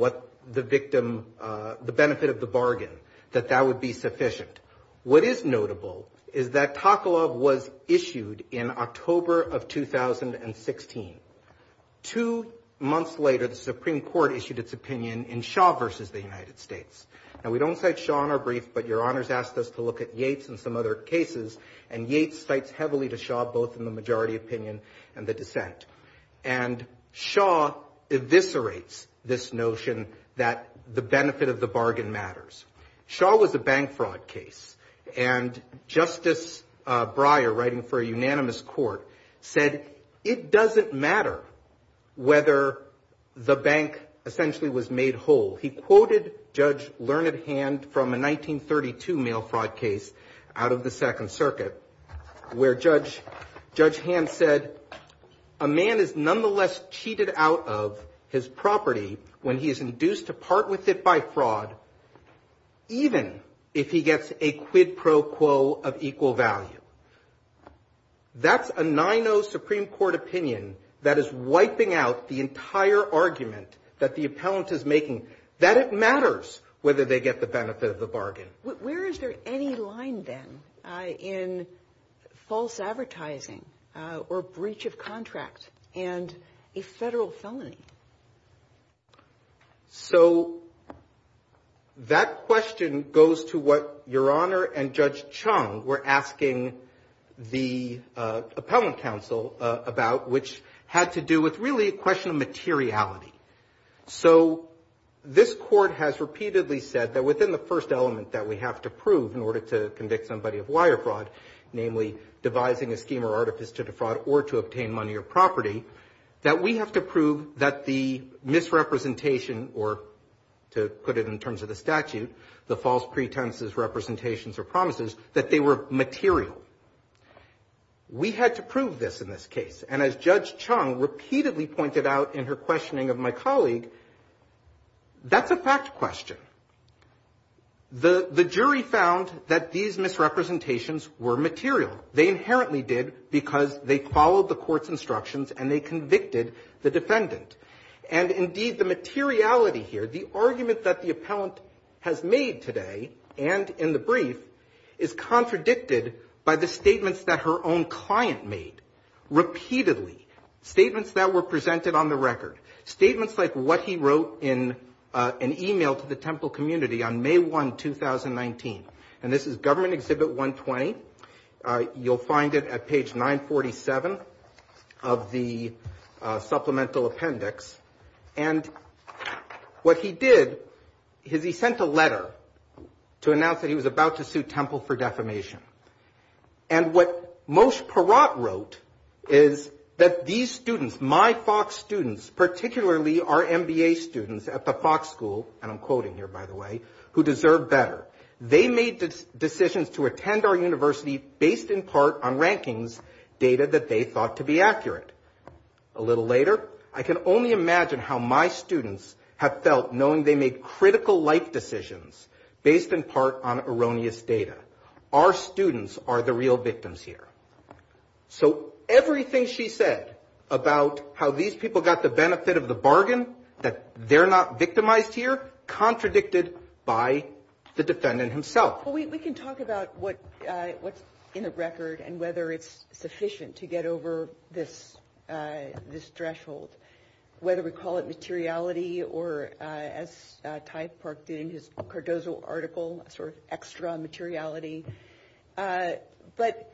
the benefit of the bargain, that that would be sufficient. What is notable is that Takaloff was issued in October of 2016. Two months later, the Supreme Court issued its opinion in Shaw v. the United States. Now, we don't cite Shaw in our brief, but Your Honors asked us to look at Yates and some other cases. And Yates cites heavily to Shaw, both in the majority opinion and the dissent. And Shaw eviscerates this notion that the benefit of the bargain matters. Shaw was a bank fraud case. And Justice Pryor, writing for a unanimous court, said it doesn't matter whether the bank, essentially, was made whole. He quoted Judge Learned Hand from a 1932 mail fraud case out of the Second Circuit, where Judge Hand said, a man is nonetheless cheated out of his property when he is induced to part with it by fraud, even if he gets a quid pro quo of equal value. That's a 9-0 Supreme Court opinion that is wiping out the entire argument that the benefit of the bargain matters. But where is there any line, then, in false advertising or breach of contract and a federal felony? So that question goes to what Your Honor and Judge Chung were asking the Appellant Counsel about, which had to do with, really, a question of materiality. So this Court has repeatedly said that within the first element that we have to prove in order to convict somebody of wire fraud, namely, devising a scheme or artifice to defraud or to obtain money or property, that we have to prove that the misrepresentation or, to put it in terms of the statute, the false pretenses, representations, or promises, that they were material. We had to prove this in this case. And as Judge Chung repeatedly pointed out in her questioning of my colleague, that's a fact question. The jury found that these misrepresentations were material. They inherently did because they followed the Court's instructions and they convicted the defendant. And indeed, the materiality here, the argument that the Appellant has made today and in the statements that were presented on the record, statements like what he wrote in an email to the Temple community on May 1, 2019. And this is Government Exhibit 120. You'll find it at page 947 of the Supplemental Appendix. And what he did is he sent a letter to announce that he was about to sue Temple for defamation. And what Moshe Perot wrote is that these students, my Fox students, particularly our MBA students at the Fox School, and I'm quoting here, by the way, who deserve better, they made decisions to attend our university based in part on rankings, data that they thought to be accurate. A little later, I can only imagine how my students have felt knowing they made critical life decisions based in part on erroneous data. Our students are the real victims here. So everything she said about how these people got the benefit of the bargain, that they're not victimized here, contradicted by the defendant himself. Well, we can talk about what's in the record and whether it's sufficient to get over this threshold, whether we call it materiality or, as Ty Park did in his Cardozo article, sort of extra materiality. But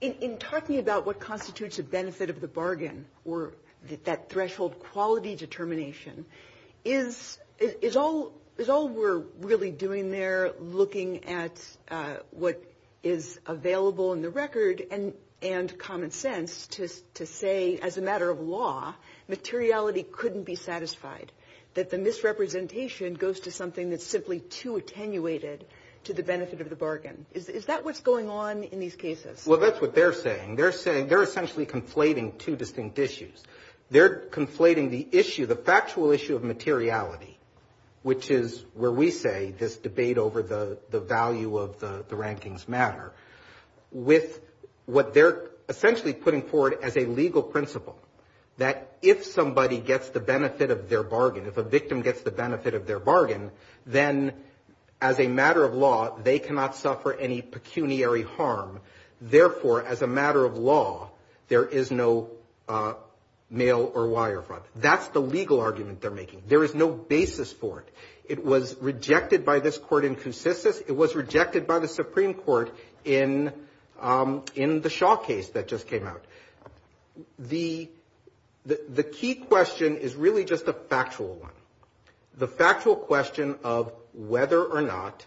in talking about what constitutes a benefit of the bargain or that threshold quality determination, is all we're really doing there looking at what is available in the record and common sense to say, as a matter of law, materiality couldn't be satisfied, that the misrepresentation goes to something that's simply too attenuated to the benefit of the bargain. Is that what's going on in these cases? Well, that's what they're saying. They're saying they're essentially conflating two distinct issues. They're conflating the issue, the factual issue of materiality, which is where we say this debate over the value of the rankings matter, with what they're essentially putting forward as a legal principle, that if somebody gets the benefit of their bargain, if a victim gets the benefit of their bargain, then as a matter of law, they cannot suffer any pecuniary harm. Therefore, as a matter of law, there is no male or wire fraud. That's the legal argument they're making. There is no basis for it. It was rejected by this court in Coussiss, it was rejected by the Supreme Court in the Shaw case that just came out. The key question is really just a factual one. The factual question of whether or not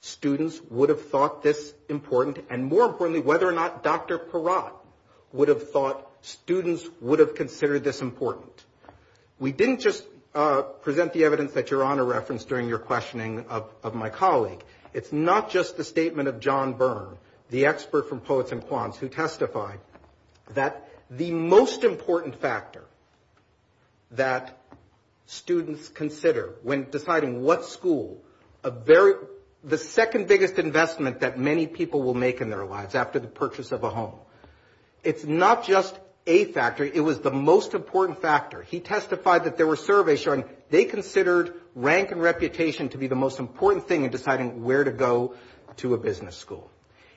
students would have thought this important, and more importantly, whether or not Dr. Perot would have thought students would have considered this important. We didn't just present the evidence that you're on a reference during your questioning of my colleague. It's not just the statement of John Byrne, the expert from Poets and Quants, who testified that the most important factor that students consider when deciding what school, the second biggest investment that many people will make in their lives after the purchase of a home. It's not just a factor, it was the most important factor. He testified that there were surveys showing they considered rank and reputation to be the most important thing in deciding where to go to a business school.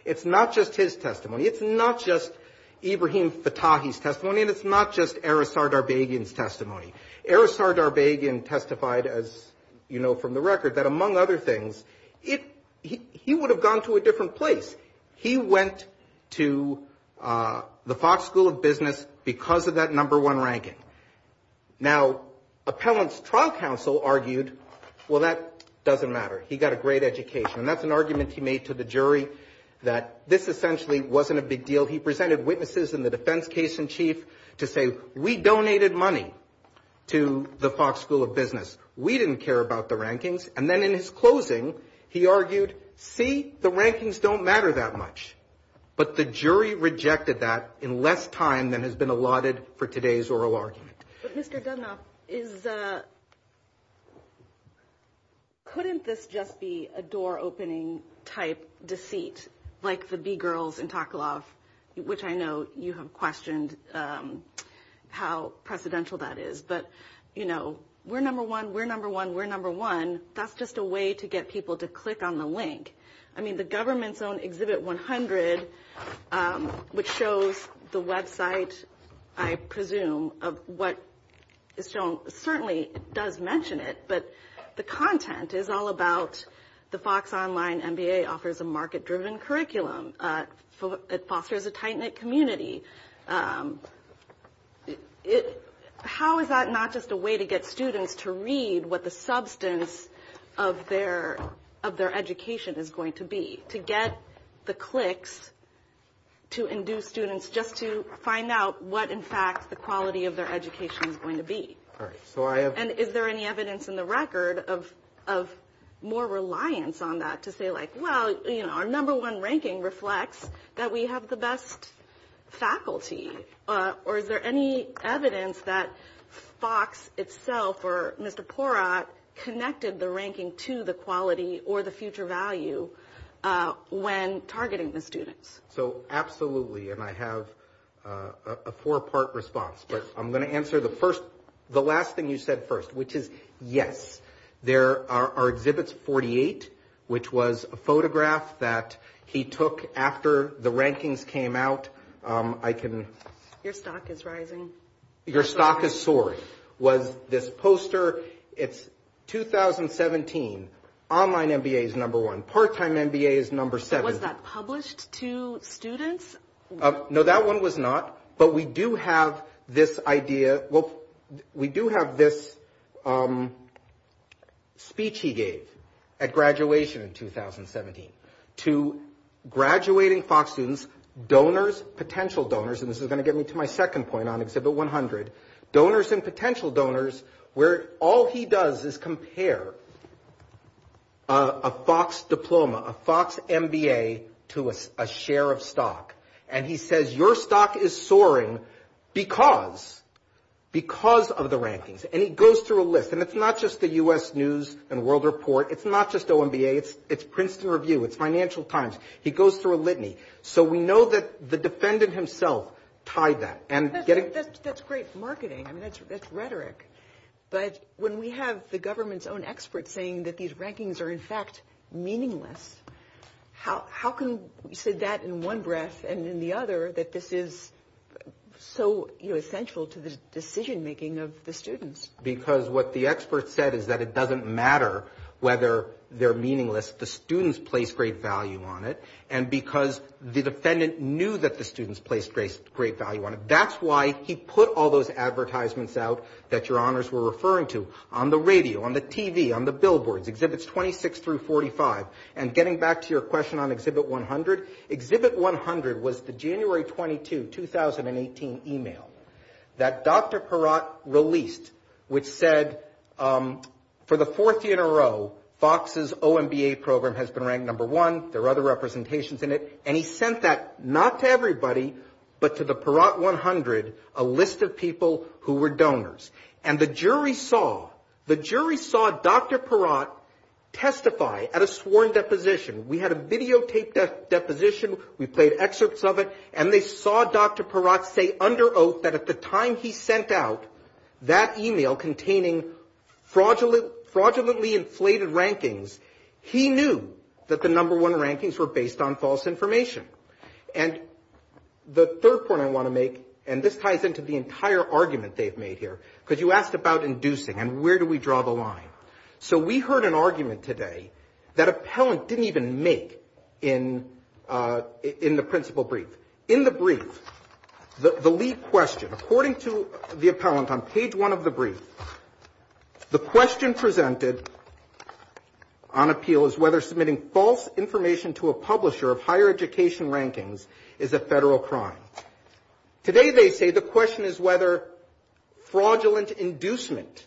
It's not just his testimony. It's not just Ibrahim Fattahi's testimony, and it's not just Erisar Darbagian's testimony. Erisar Darbagian testified, as you know from the record, that among other things, he would have gone to a different place. He went to the Fox School of Business because of that number one ranking. Now, Appellant's trial counsel argued, well, that doesn't matter. He got a great education. And that's an argument he made to the jury that this essentially wasn't a big deal. He presented witnesses in the defense case in chief to say, we donated money to the Fox School of Business. We didn't care about the rankings. And then in his closing, he argued, see, the rankings don't matter that much. But the jury rejected that in less time than has been allotted for today's oral argument. But Mr. Dudnoff, couldn't this just be a door-opening type deceit, like the B-Girls in Taklov, which I know you have questioned how precedential that is? But, you know, we're number one, we're number one, we're number one. That's just a way to get people to click on the link. I mean, the government's own Exhibit 100, which shows the website, I presume, of what it's shown, certainly it does mention it, but the content is all about the Fox Online MBA offers a market-driven curriculum. It fosters a tight-knit community. How is that not just a way to get students to read what the substance of their education is going to be? To get the clicks to induce students just to find out what, in fact, the quality of their education is going to be. All right, so I have... And is there any evidence in the record of more reliance on that to say, like, well, you know, our number one ranking reflects that we have the best faculty? Or is there any evidence that Fox itself or Mr. Porat connected the ranking to the quality or the future value when targeting the students? So, absolutely. And I have a four-part response. But I'm going to answer the last thing you said first, which is yes. There are Exhibits 48, which was a photograph that he took after the rankings came out. I can... Your stock is rising. Your stock is soaring. Was this poster... It's 2017. Online MBA is number one. Part-time MBA is number seven. Was that published to students? No, that one was not. But we do have this idea... Well, we do have this speech he gave at graduation in 2017 to graduating Fox students, donors, potential donors... And this is going to get me to my second point on Exhibit 100. Donors and potential donors, where all he does is compare a Fox diploma, a Fox MBA to a share of stock. And he says, your stock is soaring because of the rankings. And he goes through a list. And it's not just the US News and World Report. It's not just OMBA. It's Princeton Review. It's Financial Times. He goes through a litany. So, we know that the defendant himself tied that. That's great marketing. I mean, that's rhetoric. But when we have the government's own experts saying that these rankings are, in fact, meaningless, how can you say that in one breath and in the other that this is so essential to the decision-making of the students? Because what the expert said is that it doesn't matter whether they're meaningless. The students place great value on it. And because the defendant knew that the students placed great value on it. That's why he put all those advertisements out that your honors were referring to on the radio, on the TV, on the billboards, Exhibits 26 through 45. And getting back to your question on Exhibit 100, Exhibit 100 was the January 22, 2018 email that Dr. Peratt released, which said, for the fourth year in a row, Fox's OMBA program has been ranked number one. There are other representations in it. And he sent that not to everybody, but to the Peratt 100, a list of people who were donors. And the jury saw Dr. Peratt testify at a sworn deposition. We had a videotaped deposition. We played excerpts of it. And they saw Dr. Peratt say under oath that at the time he sent out that email containing fraudulently inflated rankings, he knew that the number one rankings were based on false information. And the third point I want to make, and this ties into the entire argument they've made here, because you asked about inducing and where do we draw the line. So we heard an argument today that Appellant didn't even make in the principal brief. In the brief, the lead question, according to the Appellant on page one of the brief, the question presented on appeal is whether submitting false information to a publisher of higher education rankings is a federal crime. Today they say the question is whether fraudulent inducement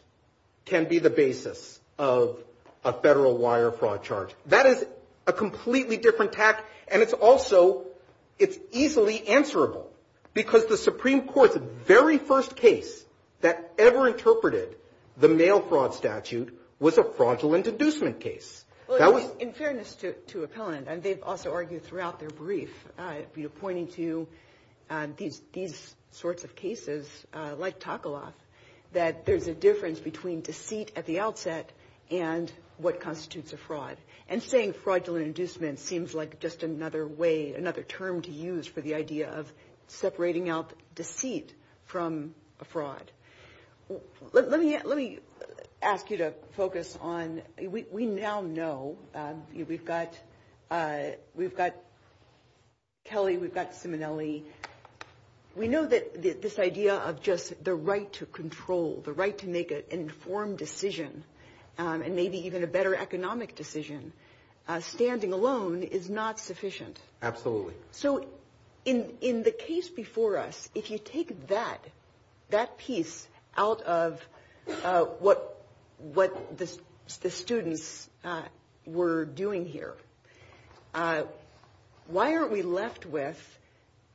can be the basis of a federal wire fraud charge. That is a completely different tact. And it's also, it's easily answerable. Because the Supreme Court, the very first case that ever interpreted the mail fraud statute was a fraudulent inducement case. In fairness to Appellant, and they've also argued throughout their brief, pointing to these sorts of cases, like Takaloff, that there's a difference between deceit at the outset and what constitutes a fraud. And saying fraudulent inducement seems like just another way, another term to use for the idea of separating out deceit from a fraud. Let me ask you to focus on, we now know, we've got Kelly, we've got Simonelli, we know that this idea of just the right to control, the right to make an informed decision, and maybe even a better economic decision, standing alone is not sufficient. Absolutely. So in the case before us, if you take that piece out of what the students were doing here, why are we left with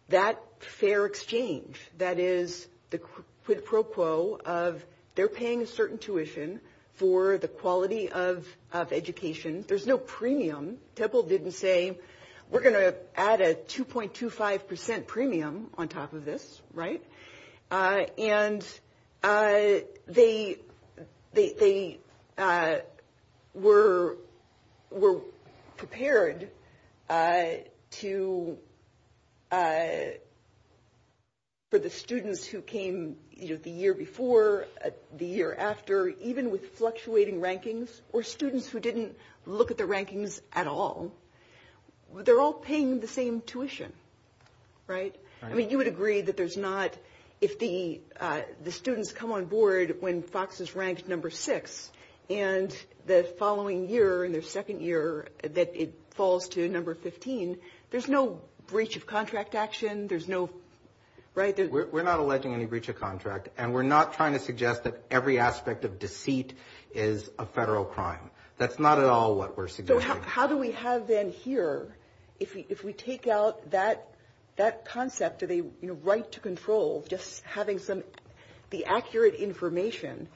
that fair exchange? That is the quid pro quo of they're paying a certain tuition for the quality of education. There's no premium. Temple didn't say, we're going to add a 2.25% premium on top of this, right? And they were prepared to, for the students who came the year before, the year after, even with fluctuating rankings, or students who didn't look at the rankings at all, they're all paying the same tuition, right? I mean, you would agree that there's not, if the students come on board when Fox is ranked number six, and the following year, in their second year, that it falls to number 15, there's no breach of contract action, there's no, right? We're not alleging any breach of contract, and we're not trying to suggest that every aspect of deceit is a federal crime. That's not at all what we're suggesting. So how do we have then here, if we take out that concept of a right to control, just having some, the accurate information,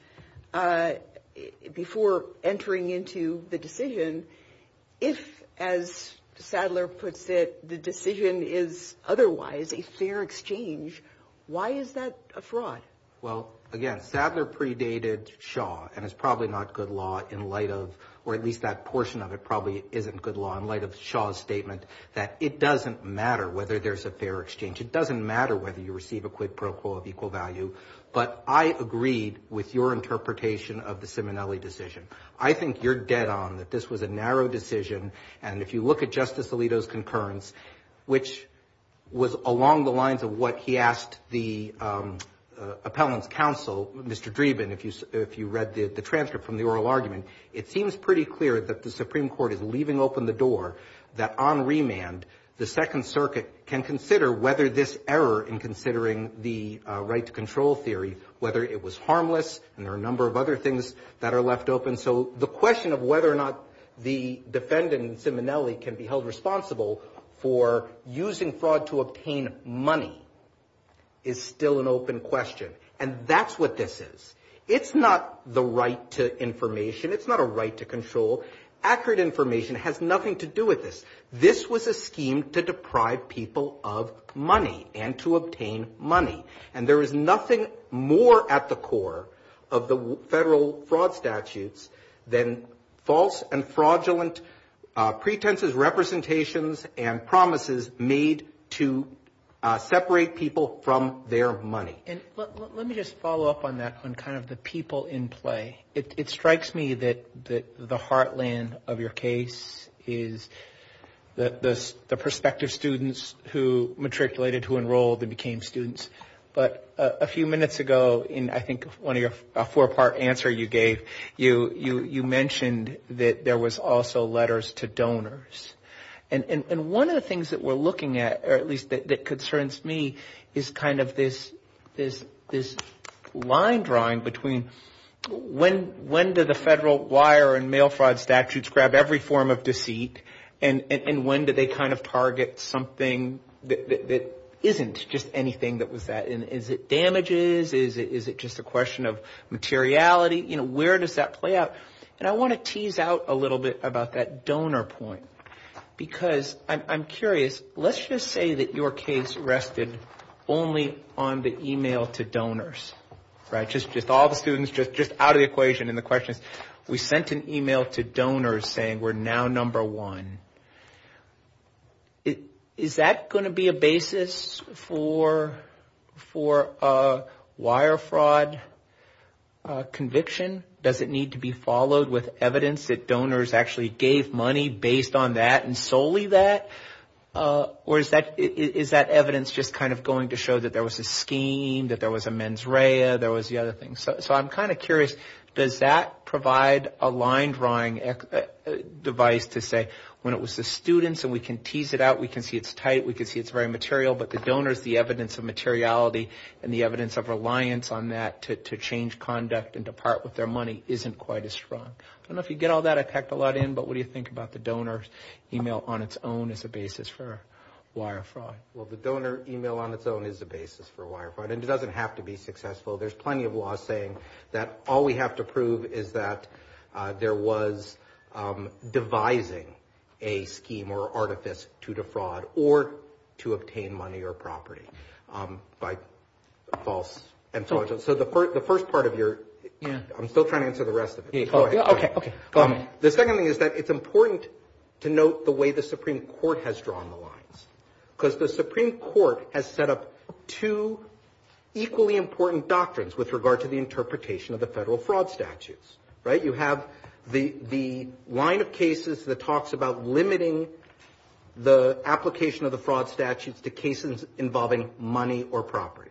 before entering into the decision, if, as Sadler puts it, the decision is otherwise a fair exchange, why is that a fraud? Well, again, Sadler predated Shaw, and it's probably not good law in light of, or at least that portion of it probably isn't good law in light of Shaw's statement that it doesn't matter whether there's a fair exchange. It doesn't matter whether you receive a quid pro quo of equal value, but I agreed with your interpretation of the Simonelli decision. I think you're dead on that this was a narrow decision, and if you look at Justice Alito's appellant counsel, Mr. Dreeben, if you read the transcript from the oral argument, it seems pretty clear that the Supreme Court is leaving open the door that on remand, the Second Circuit can consider whether this error in considering the right to control theory, whether it was harmless, and there are a number of other things that are left open. So the question of whether or not the defendant, Simonelli, can be held responsible for using fraud to obtain money is still an open question, and that's what this is. It's not the right to information. It's not a right to control. Accurate information has nothing to do with this. This was a scheme to deprive people of money and to obtain money, and there is nothing more at the core of the federal fraud statutes than false and fraudulent pretenses, representations, and promises made to separate people from their money. And let me just follow up on that on kind of the people in play. It strikes me that the heartland of your case is the prospective students who matriculated, who enrolled, and became students, but a few minutes ago in, I think, one of your four-part answer you gave, you mentioned that there was also letters to donors, and one of the things that we're looking at, or at least that concerns me, is kind of this line drawing between when do the federal wire and mail fraud statutes grab every form of deceit, and when do they kind of target something that isn't just anything that was that, and is it just a question of materiality? You know, where does that play out? And I want to tease out a little bit about that donor point, because I'm curious. Let's just say that your case rested only on the email to donors, right? Just all the students, just out of the equation in the questions. We sent an email to donors saying we're now number one. Is that going to be a basis for a wire fraud conviction? Does it need to be followed with evidence that donors actually gave money based on that and solely that, or is that evidence just kind of going to show that there was a scheme, that there was a mens rea, there was the other thing? So I'm kind of curious, does that provide a line drawing device to say, when do the students, and we can tease it out, we can see it's tight, we can see it's very material, but the donors, the evidence of materiality and the evidence of reliance on that to change conduct and depart with their money isn't quite as strong. I don't know if you get all that. I tacked a lot in, but what do you think about the donor email on its own as a basis for wire fraud? Well, the donor email on its own is a basis for wire fraud, and it doesn't have to be successful. There's plenty of law saying that all we have to prove is that there was devising a scheme or artifice to defraud or to obtain money or property by false and so on. So the first part of your, I'm still trying to answer the rest of it. The second thing is that it's important to note the way the Supreme Court has drawn the doctrines with regard to the interpretation of the federal fraud statutes, right? You have the line of cases that talks about limiting the application of the fraud statutes to cases involving money or property,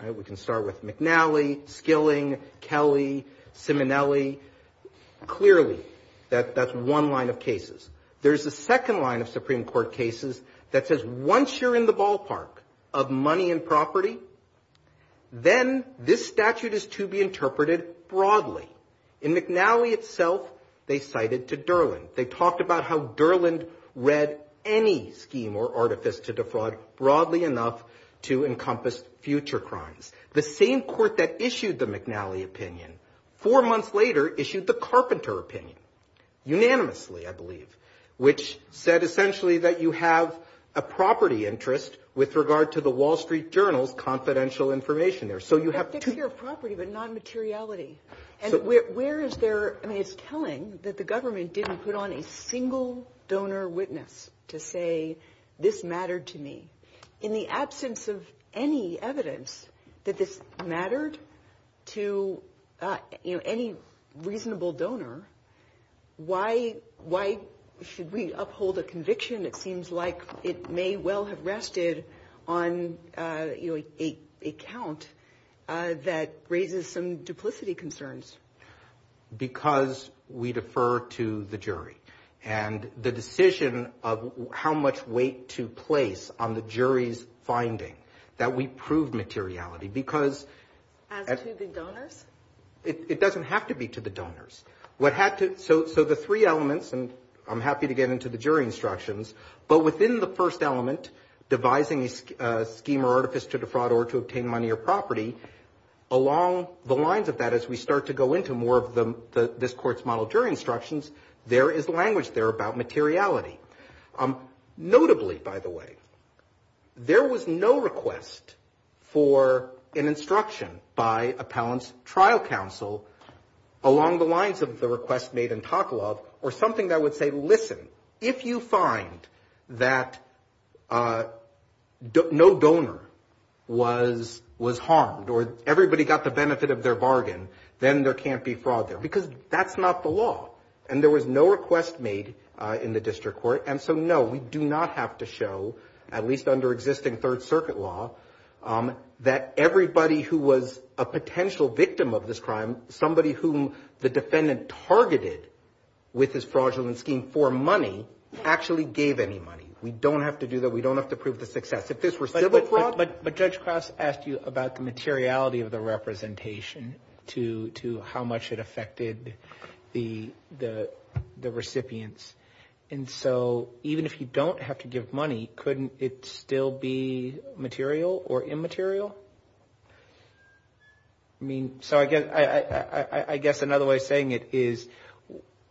right? We can start with McNally, Skilling, Kelly, Simonelli, clearly that's one line of cases. There's a second line of Supreme Court cases that says once you're in the ballpark of money and property, then this statute is to be interpreted broadly. In McNally itself, they cited to Durland. They talked about how Durland read any scheme or artifice to defraud broadly enough to encompass future crimes. The same court that issued the McNally opinion four months later issued the Carpenter opinion, unanimously I believe, which said essentially that you have a property interest with regard to the Wall Street Journal confidential information there. So you have to... Take care of property but not materiality. And where is there, I mean it's telling that the government didn't put on a single donor witness to say this mattered to me. In the absence of any evidence that this mattered to any reasonable donor, why should we uphold a conviction? It seems like it may well have rested on a count that raises some duplicity concerns. Because we defer to the jury and the decision of how much weight to place on the jury's finding that we proved materiality because... And to the donors? So the three elements, and I'm happy to get into the jury instructions, but within the first element, devising a scheme or artifice to defraud or to obtain money or property, along the lines of that as we start to go into more of this court's model jury instructions, there is language there about materiality. Notably, by the way, there was no request for an instruction by appellant's trial counsel along the lines of the request made in Taklov or something that would say, listen, if you find that no donor was harmed or everybody got the benefit of their bargain, then there can't be fraud there. Because that's not the law. And there was no request made in the district court. And so no, we do not have to show, at least under existing Third Circuit law, that everybody who was a potential victim of this crime, somebody whom the defendant targeted with his fraudulent scheme for money, actually gave any money. We don't have to do that. We don't have to prove the success. But Judge Krause asked you about the materiality of the representation to how much it affected the recipients. And so even if you don't have to give money, couldn't it still be material or immaterial? I mean, so I guess another way of saying it is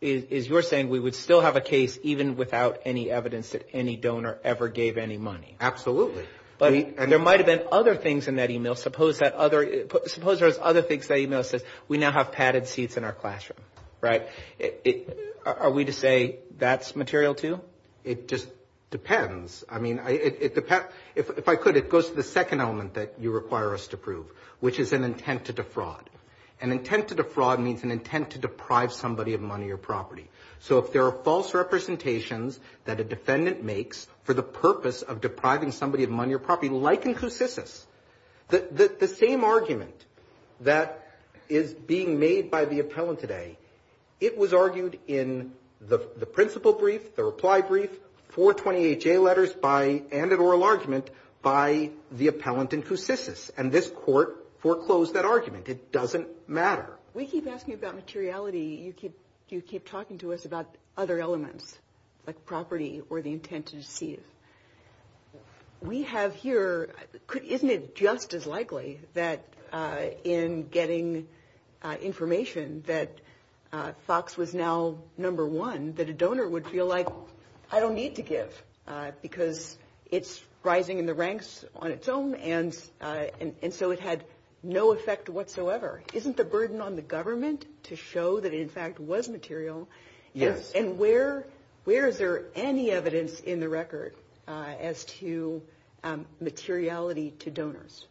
you're saying we would still have a case even without any evidence that any donor ever gave any money. Absolutely. But there might have been other things in that email. Suppose there was other things in that email that said, we now have padded seats in our classroom, right? Are we to say that's material too? It just depends. I mean, if I could, it goes to the second element that you require us to prove. Which is an intent to defraud. An intent to defraud means an intent to deprive somebody of money or property. So if there are false representations that a defendant makes for the purpose of depriving somebody of money or property, like in Coussis, the same argument that is being made by the appellant today, it was argued in the principle brief, the reply brief, 420HA letters and an oral argument by the appellant in Coussis. And this court foreclosed that argument. It doesn't matter. We keep asking about materiality, you keep talking to us about other elements, like property or the intent to deceive. We have here, isn't it just as likely that in getting information that Fox was now number one, that a donor would feel like, I don't need to give because it's rising in the ranks on its own and so it had no effect whatsoever? Isn't the burden on the government to show that it in fact was material? Yes. And where is there any evidence in the record as to materiality to donors?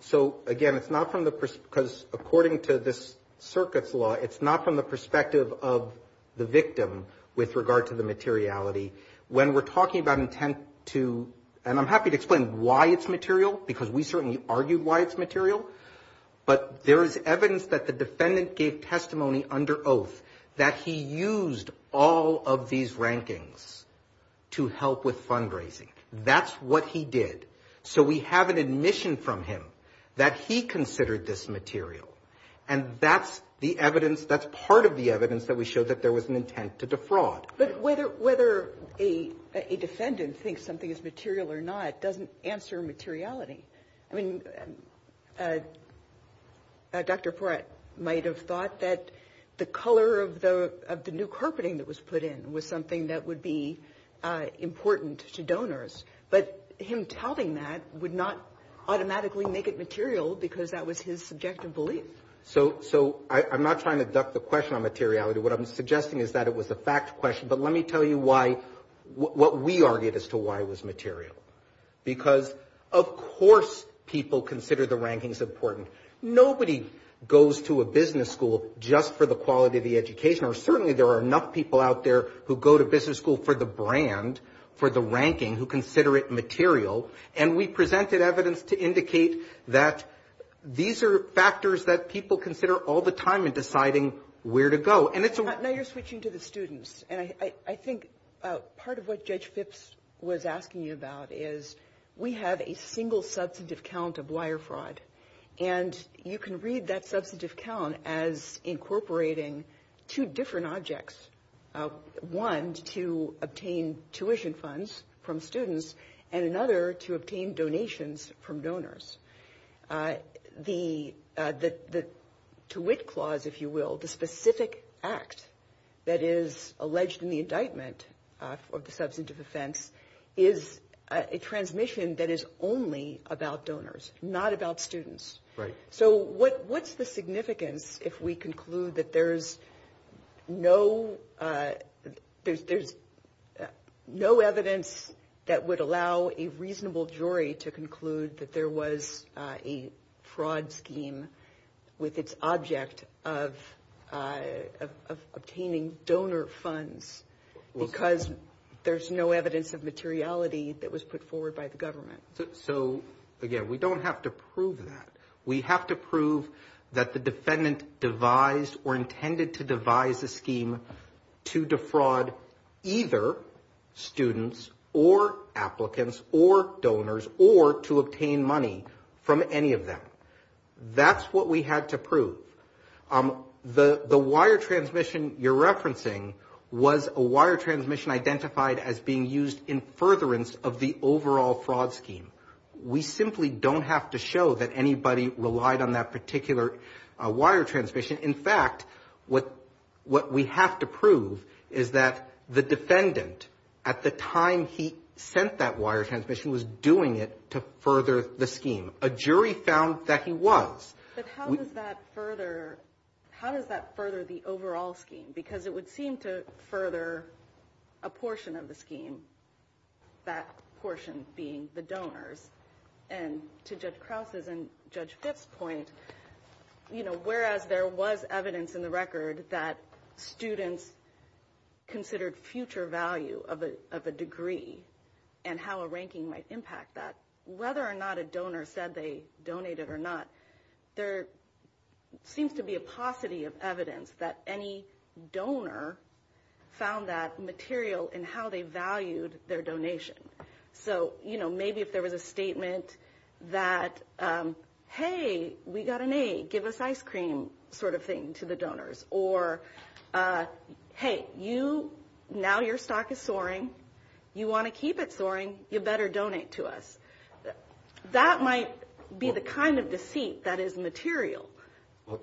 So again, it's not from the, because according to this circuit's law, it's not from the perspective of the victim with regard to the materiality. When we're talking about intent to, and I'm happy to explain why it's material because we certainly argued why it's material, but there is evidence that the defendant gave testimony under oath that he used all of these rankings to help with fundraising. That's what he did. So we have an admission from him that he considered this material and that's the evidence, that's part of the evidence that we showed that there was an intent to defraud. But whether a defendant thinks something is material or not doesn't answer materiality. I mean, Dr. Porat might have thought that the color of the new carpeting that was put in was something that would be important to donors, but him telling that would not automatically make it material because that was his subjective belief. So I'm not trying to duck the question on materiality. What I'm suggesting is that it was a fact question, but let me tell you why, what we argued as to why it was material. Because of course people consider the rankings important. Nobody goes to a business school just for the quality of the education or certainly there are enough people out there who go to business school for the brand, for the ranking, who consider it material. And we presented evidence to indicate that these are factors that people consider all the time in deciding where to go. Now you're switching to the students. And I think part of what Judge Phipps was asking you about is we have a single substantive count of wire fraud. And you can read that substantive count as incorporating two different objects. One to obtain tuition funds from students and another to obtain donations from donors. To which clause, if you will, the specific act that is alleged in the indictment of the substantive offense is a transmission that is only about donors, not about students. So what's the significance if we conclude that there's no evidence that would allow a reasonable jury to conclude that there was a fraud scheme with its object of obtaining donor funds because there's no evidence of materiality that was put forward by the government? So again, we don't have to prove that. We have to prove that the defendant devised or intended to devise a scheme to defraud either students or applicants or donors or to obtain money from any of them. That's what we had to prove. The wire transmission you're referencing was a wire transmission identified as being used in furtherance of the overall fraud scheme. We simply don't have to show that anybody relied on that particular wire transmission. In fact, what we have to prove is that the defendant at the time he sent that wire transmission was doing it to further the scheme. A jury found that he was. But how does that further the overall scheme? Because it would seem to further a portion of the scheme, that portion being the donors. And to Judge Krause's and Judge Fitts' point, you know, whereas there was evidence in the record that students considered future value of a degree and how a ranking might impact that, whether or not a donor said they donated or not, there seems to be a paucity of evidence that any donor found that material in how they valued their donation. So, you know, maybe if there was a statement that, hey, we got an A, give us ice cream sort of thing to the donors, or, hey, you – now your stock is soaring, you want to keep it soaring, you better donate to us. That might be the kind of deceit that is material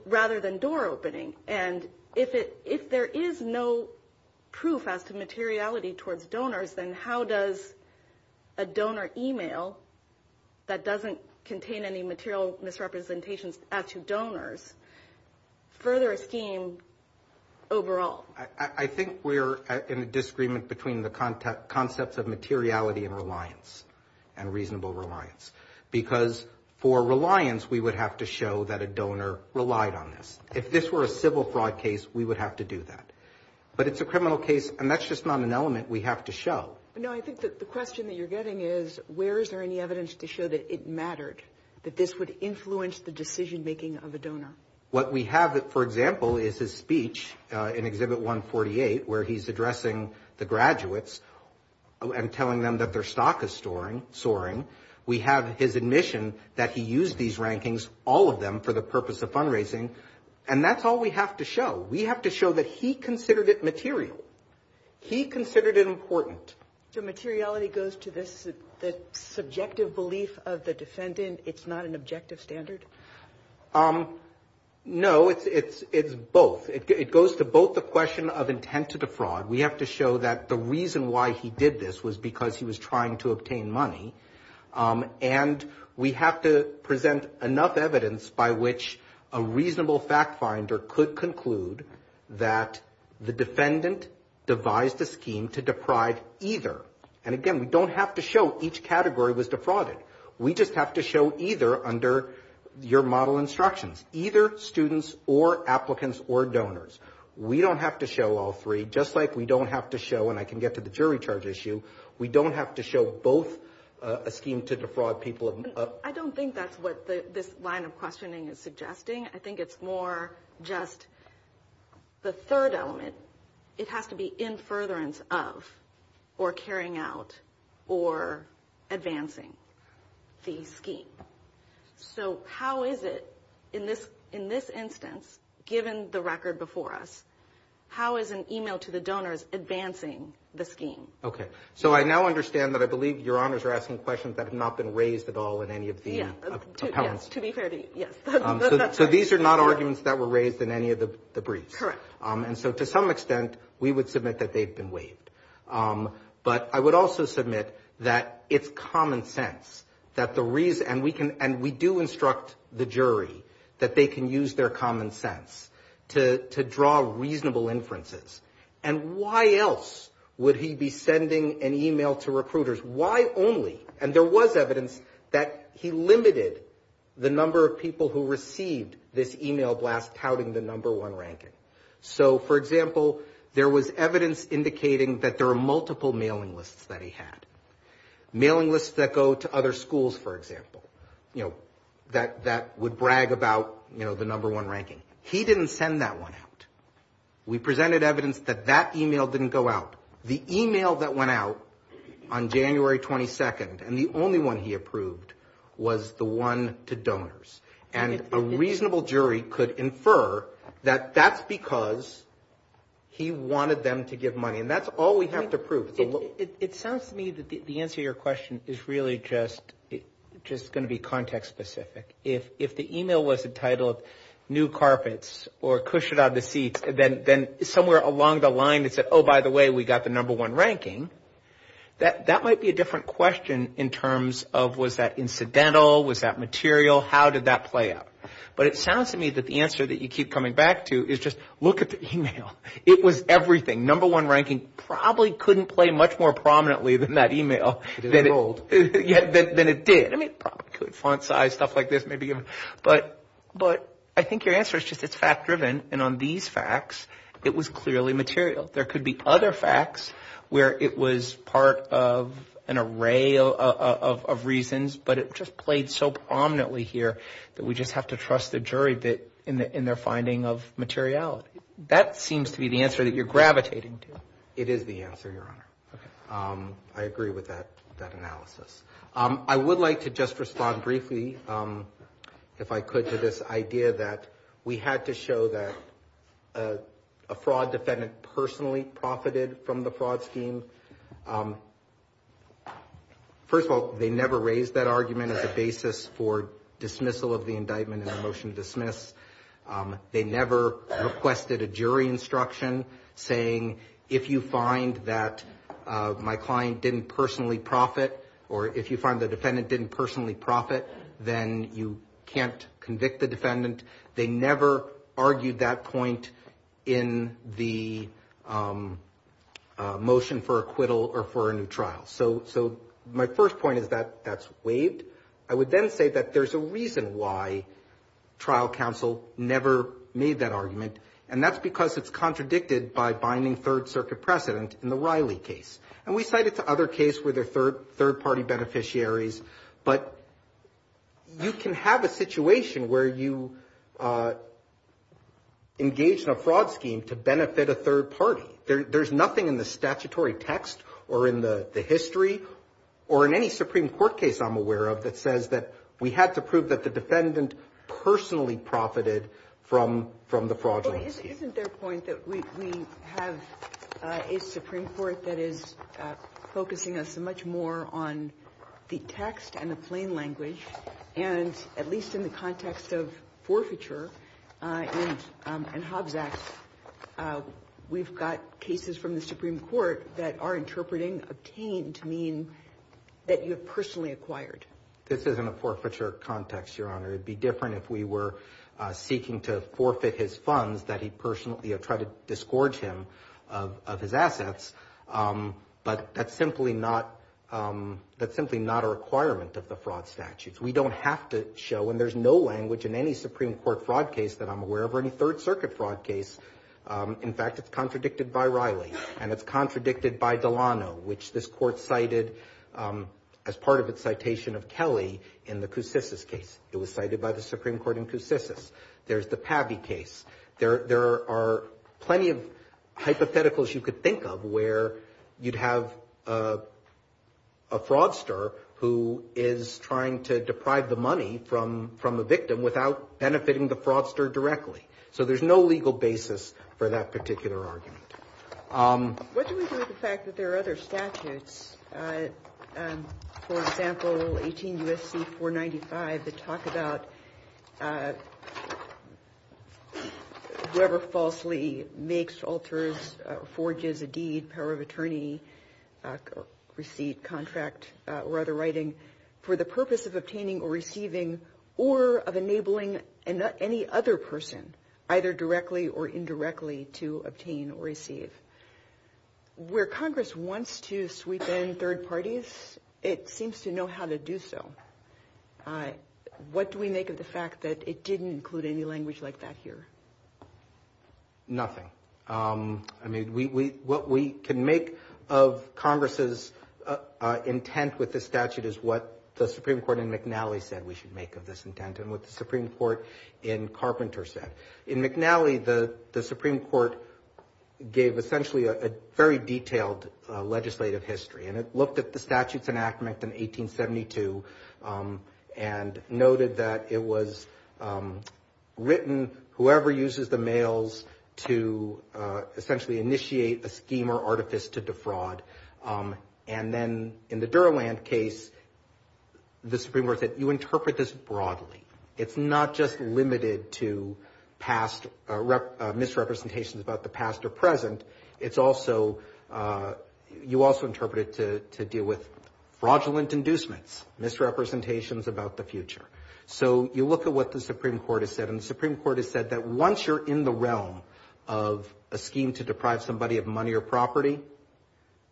rather than door opening. And if there is no proof as to materiality towards donors, then how does a donor email that doesn't contain any material misrepresentations as to donors further a scheme overall? I think we're in a disagreement between the concepts of materiality and reliance, and reasonable reliance. Because for reliance, we would have to show that a donor relied on this. If this were a civil fraud case, we would have to do that. But it's a criminal case, and that's just not an element we have to show. No, I think that the question that you're getting is, where is there any evidence to show that it mattered, that this would influence the decision-making of a donor? What we have, for example, is his speech in Exhibit 148, where he's addressing the graduates and telling them that their stock is soaring. We have his admission that he used these rankings, all of them, for the purpose of and that's all we have to show. We have to show that he considered it material. He considered it important. So materiality goes to the subjective belief of the defendant. It's not an objective standard? No, it's both. It goes to both the question of intent to the fraud. We have to show that the reason why he did this was because he was trying to obtain money. And we have to present enough evidence by which a reasonable fact finder could conclude that the defendant devised a scheme to deprive either. And again, we don't have to show each category was defrauded. We just have to show either under your model instructions. Either students or applicants or donors. We don't have to show all three. Just like we don't have to show, and I can get to the jury charge issue, we don't have to show both a scheme to defraud people. I don't think that's what this line of questioning is suggesting. I think it's more just the third element. It has to be in furtherance of or carrying out or advancing the scheme. So how is it in this instance, given the record before us, how is an email to the donors advancing the scheme? Okay. So I now understand that I believe your honors are asking questions that have not been raised at all in any of the appellants. To be fair, yes. So these are not arguments that were raised in any of the briefs. Correct. And so to some extent, we would submit that they've been waived. But I would also submit that it's common sense that the reason, and we do instruct the jury that they can use their common sense to draw reasonable inferences. And why else would he be sending an email to recruiters? Why only? And there was evidence that he limited the number of people who received this email blast touting the number one ranking. So for example, there was evidence indicating that there are multiple mailing lists that he had. Mailing lists that go to other schools, for example, that would brag about the number one ranking. He didn't send that one out. We presented evidence that that email didn't go out. The email that went out on January 22nd, and the only one he approved was the one to donors. And a reasonable jury could infer that that's because he wanted them to give money. And that's all we have to prove. It sounds to me that the answer to your question is really just going to be context specific. If the email was entitled new carpets or cushion out of the seat, then somewhere along the line, it said, oh, by the way, we got the number one ranking. That might be a different question in terms of was that incidental? Was that material? How did that play out? But it sounds to me that the answer that you keep coming back to is just look at the email. It was everything. Number one ranking probably couldn't play much more prominently than that email. Yeah, then it did. I mean, font size, stuff like this may be given. But I think your answer is just it's fact driven. And on these facts, it was clearly material. There could be other facts where it was part of an array of reasons, but it just played so prominently here that we just have to trust the jury in their finding of materiality. That seems to be the answer that you're gravitating to. It is the answer, Your Honor. OK, I agree with that analysis. I would like to just respond briefly, if I could, to this idea that we had to show that a fraud defendant personally profited from the fraud scheme. First of all, they never raised that argument as a basis for dismissal of the indictment in the motion to dismiss. They never requested a jury instruction saying, if you find that my client didn't personally profit, or if you find the defendant didn't personally profit, then you can't convict the defendant. They never argued that point in the motion for acquittal or for a new trial. So my first point is that that's waived. I would then say that there's a reason why trial counsel never made that argument, and that's because it's contradicted by binding third circuit precedent in the Riley case. And we cited the other case where they're third party beneficiaries, but you can have a situation where you engage in a fraud scheme to benefit a third party. There's nothing in the statutory text, or in the history, or in any Supreme Court case I'm aware of, that says that we had to prove that the defendant personally profited from the fraud scheme. Isn't their point that we have a Supreme Court that is focusing us much more on the text and the plain language? And at least in the context of forfeiture and Hobbs Act, we've got cases from the Supreme Court that are interpreting obtained to mean that you've personally acquired. This isn't a forfeiture context, Your Honor. It'd be different if we were seeking to forfeit his funds that he personally tried to disgorge him of his assets. But that's simply not a requirement of the fraud statute. We don't have to show, and there's no language in any Supreme Court fraud case that I'm aware of, or any third circuit fraud case. In fact, it's contradicted by Riley, and it's contradicted by Delano. This court cited, as part of its citation of Kelly, in the Koussissis case. It was cited by the Supreme Court in Koussissis. There's the Pavey case. There are plenty of hypotheticals you could think of where you'd have a fraudster who is trying to deprive the money from a victim without benefiting the fraudster directly. So there's no legal basis for that particular argument. What's the reason for the fact that there are other statutes, for example, 18 U.S.C. 495, that talk about whoever falsely makes, alters, forges a deed, power of attorney, receipt, contract, or other writing for the purpose of obtaining or receiving, or of enabling any other person, either directly or indirectly, to obtain or receive? Where Congress wants to sweep in third parties, it seems to know how to do so. What do we make of the fact that it didn't include any language like that here? Nothing. I mean, what we can make of Congress's intent with this statute is what the Supreme Court in McNally said we should make of this intent and what the Supreme Court in Carpenter said. In McNally, the Supreme Court gave essentially a very detailed legislative history, and it looked at the statutes enactment in 1872 and noted that it was written, whoever uses the mails to essentially initiate a scheme or artifice to defraud, and then in the Durland case, the Supreme Court said, you interpret this broadly. It's not just limited to misrepresentations about the past or present. It's also, you also interpret it to deal with fraudulent inducements, misrepresentations about the future. So you look at what the Supreme Court has said, and the Supreme Court has said that once you're in the realm of a scheme to deprive somebody of money or property,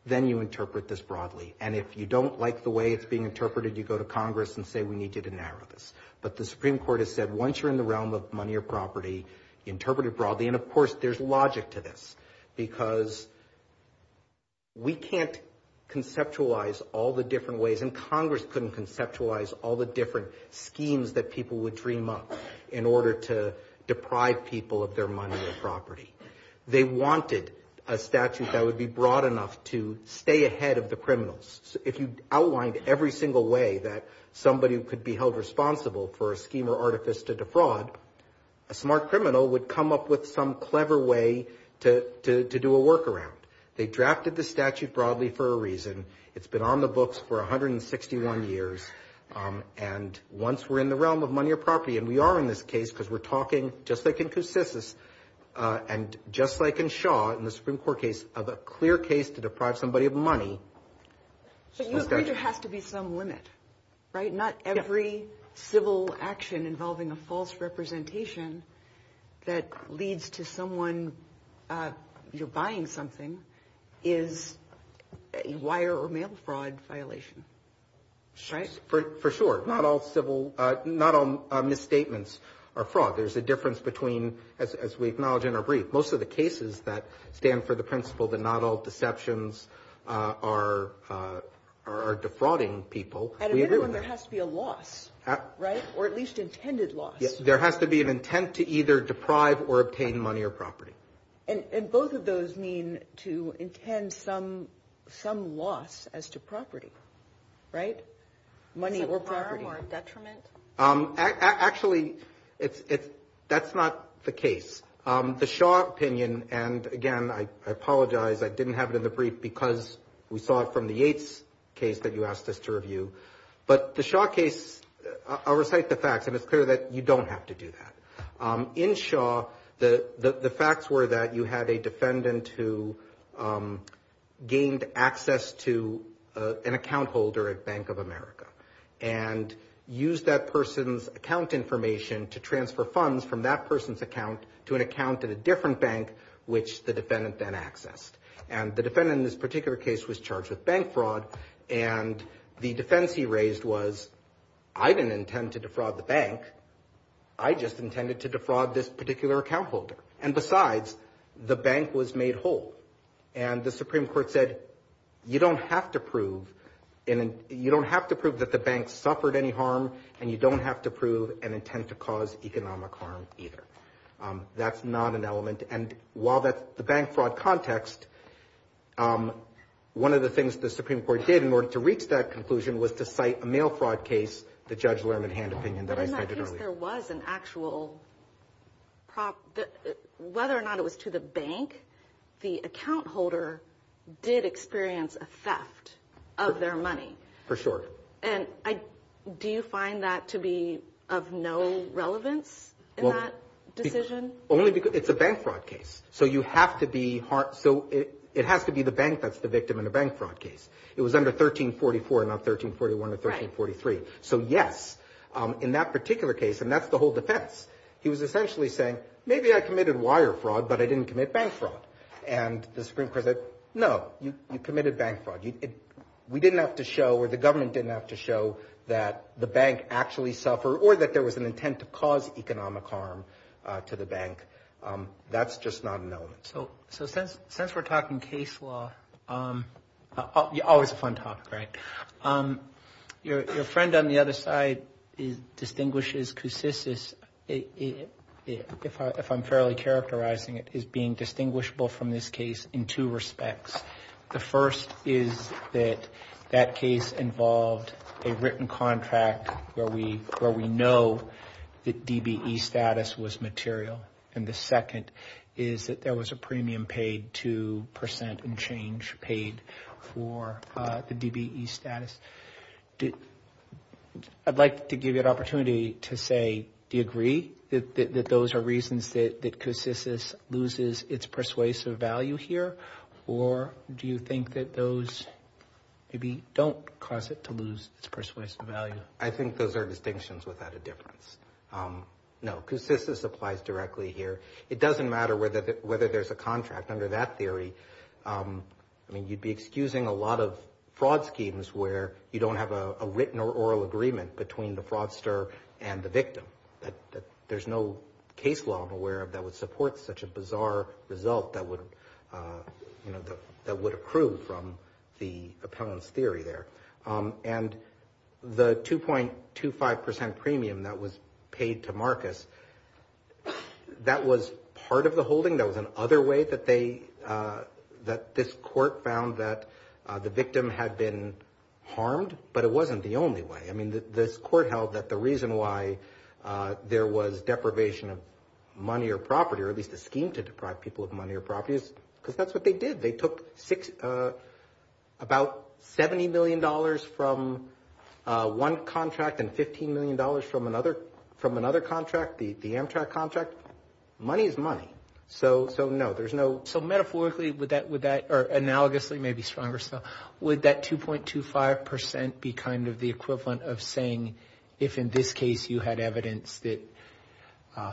then you interpret this broadly. And if you don't like the way it's being interpreted, you go to Congress and say, we need to narrow this. But the Supreme Court has said, once you're in the realm of money or property, interpret it broadly. And of course, there's logic to this because we can't conceptualize all the different ways, and Congress couldn't conceptualize all the different schemes that people would dream up in order to deprive people of their money or property. They wanted a statute that would be broad enough to stay ahead of the criminals. If you outlined every single way that somebody could be held responsible for a scheme or artifice to defraud, a smart criminal would come up with some clever way to do a workaround. They drafted the statute broadly for a reason. It's been on the books for 161 years. And once we're in the realm of money or property, and we are in this case because we're talking, just like in Coussis, and just like in Shaw, in the Supreme Court case, of a clear case to deprive somebody of money. So you think there has to be some limit, right? Not every civil action involving a false representation that leads to someone, you're buying something, is a wire or mail fraud violation, right? For sure. Not all misstatements are fraud. There's a difference between, as we acknowledge in our brief, most of the cases that stand for the principle that not all deceptions are defrauding people. And if anyone, there has to be a loss, right? Or at least intended loss. Yes, there has to be an intent to either deprive or obtain money or property. And both of those mean to intend some loss as to property, right? Money or property. Actually, that's not the case. The Shaw opinion, and again, I apologize, I didn't have it in the brief because we saw it from the Yates case that you asked us to review. But the Shaw case, I'll recite the facts, and it's clear that you don't have to do that. In Shaw, the facts were that you had a defendant who gained access to an account holder at Bank of America. And used that person's account information to transfer funds from that person's account to an account in a different bank, which the defendant then accessed. And the defendant in this particular case was charged with bank fraud. And the defense he raised was, I didn't intend to defraud the bank. I just intended to defraud this particular account holder. And besides, the bank was made whole. And the Supreme Court said, you don't have to prove that the bank suffered any harm. And you don't have to prove an intent to cause economic harm either. That's not an element. And while that's the bank fraud context, one of the things the Supreme Court did in order to reach that conclusion was to cite a mail fraud case, the Judge Lerman Hand opinion that I cited earlier. And I think there was an actual, whether or not it was to the bank, the account holder did experience a theft of their money. For sure. And do you find that to be of no relevance in that decision? Only because it's a bank fraud case. So you have to be hard. So it has to be the bank that's the victim in a bank fraud case. It was under 1344, not 1341 or 1343. So yes, in that particular case, and that's the whole defense, he was essentially saying, maybe I committed wire fraud, but I didn't commit bank fraud. And the Supreme Court said, no, you committed bank fraud. We didn't have to show, or the government didn't have to show, that the bank actually suffered, or that there was an intent to cause economic harm to the bank. That's just not known. So since we're talking case law, always a fun topic, right? Your friend on the other side distinguishes, consists of, if I'm fairly characterizing it, is being distinguishable from this case in two respects. The first is that that case involved a written contract where we know that DBE status was material. And the second is that there was a premium paid, 2% and change paid for the DBE status. I'd like to give you an opportunity to say, do you agree that those are reasons that Consensus loses its persuasive value here? Or do you think that those maybe don't cause it to lose its persuasive value? I think those are distinctions without a difference. No, Consensus applies directly here. It doesn't matter whether there's a contract under that theory. I mean, you'd be excusing a lot of fraud schemes where you don't have a written or oral agreement between the fraudster and the victim. There's no case law I'm aware of that would support such a bizarre result that would accrue from the appellant's theory there. And the 2.25% premium that was paid to Marcus, that was part of the holding. There was another way that this court found that the victim had been harmed, but it wasn't the only way. I mean, this court held that the reason why there was deprivation of money or property, or at least a scheme to deprive people of money or property, is because that's what they did. They took about $70 million from one contract and $15 million from another contract, the Amtrak contract. Money is money. So, no, there's no... So, metaphorically, would that, or analogously, maybe stronger still, would that 2.25% be kind of the equivalent of saying, if in this case you had evidence that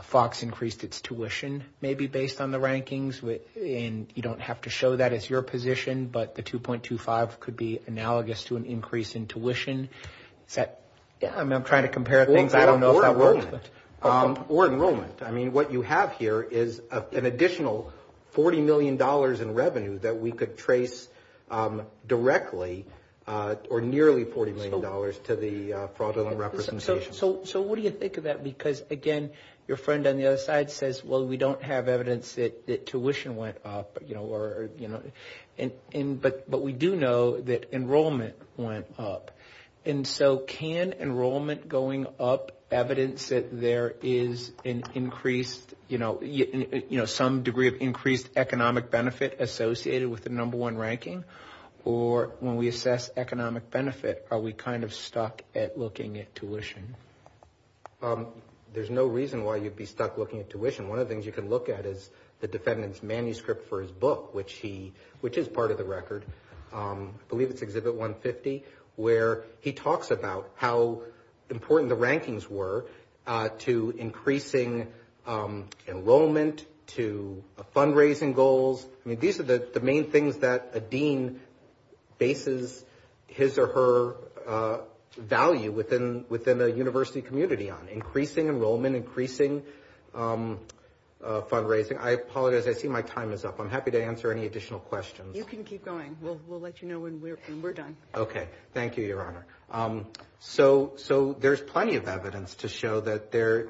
Fox increased its tuition, maybe based on the rankings, and you don't have to show that as your position, but the 2.25% could be analogous to an increase in tuition. Yeah, I'm trying to compare things. I don't know if that works. Or enrollment. I mean, what you have here is an additional $40 million in revenue that we could trace directly, or nearly $40 million to the fraudulent representation. So, what do you think of that? Because, again, your friend on the other side says, well, we don't have evidence that tuition went up, but we do know that enrollment went up. And so, can enrollment going up evidence that there is some degree of increased economic benefit associated with the number one ranking? Or when we assess economic benefit, are we kind of stuck at looking at tuition? There's no reason why you'd be stuck looking at tuition. One of the things you can look at is the defendant's manuscript for his book, which is part of the record. I believe it's Exhibit 150, where he talks about how important the rankings were to increasing enrollment, to fundraising goals. I mean, these are the main things that a dean bases his or her value within a university community on. Increasing enrollment, increasing fundraising. I apologize. I see my time is up. I'm happy to answer any additional questions. You can keep going. We'll let you know when we're done. Okay. Thank you, Your Honor. So, there's plenty of evidence to show that there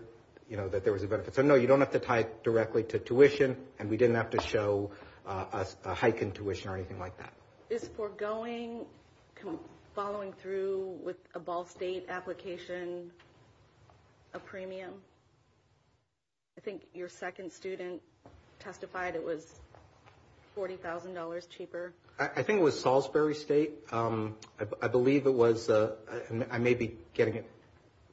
was a benefit. So, no, you don't have to tie directly to tuition, and we didn't have to show a hike in tuition or anything like that. Is foregoing following through with a Ball State application a premium? I think your second student testified it was $40,000 cheaper. I think it was Salisbury State. I believe it was. I may be getting it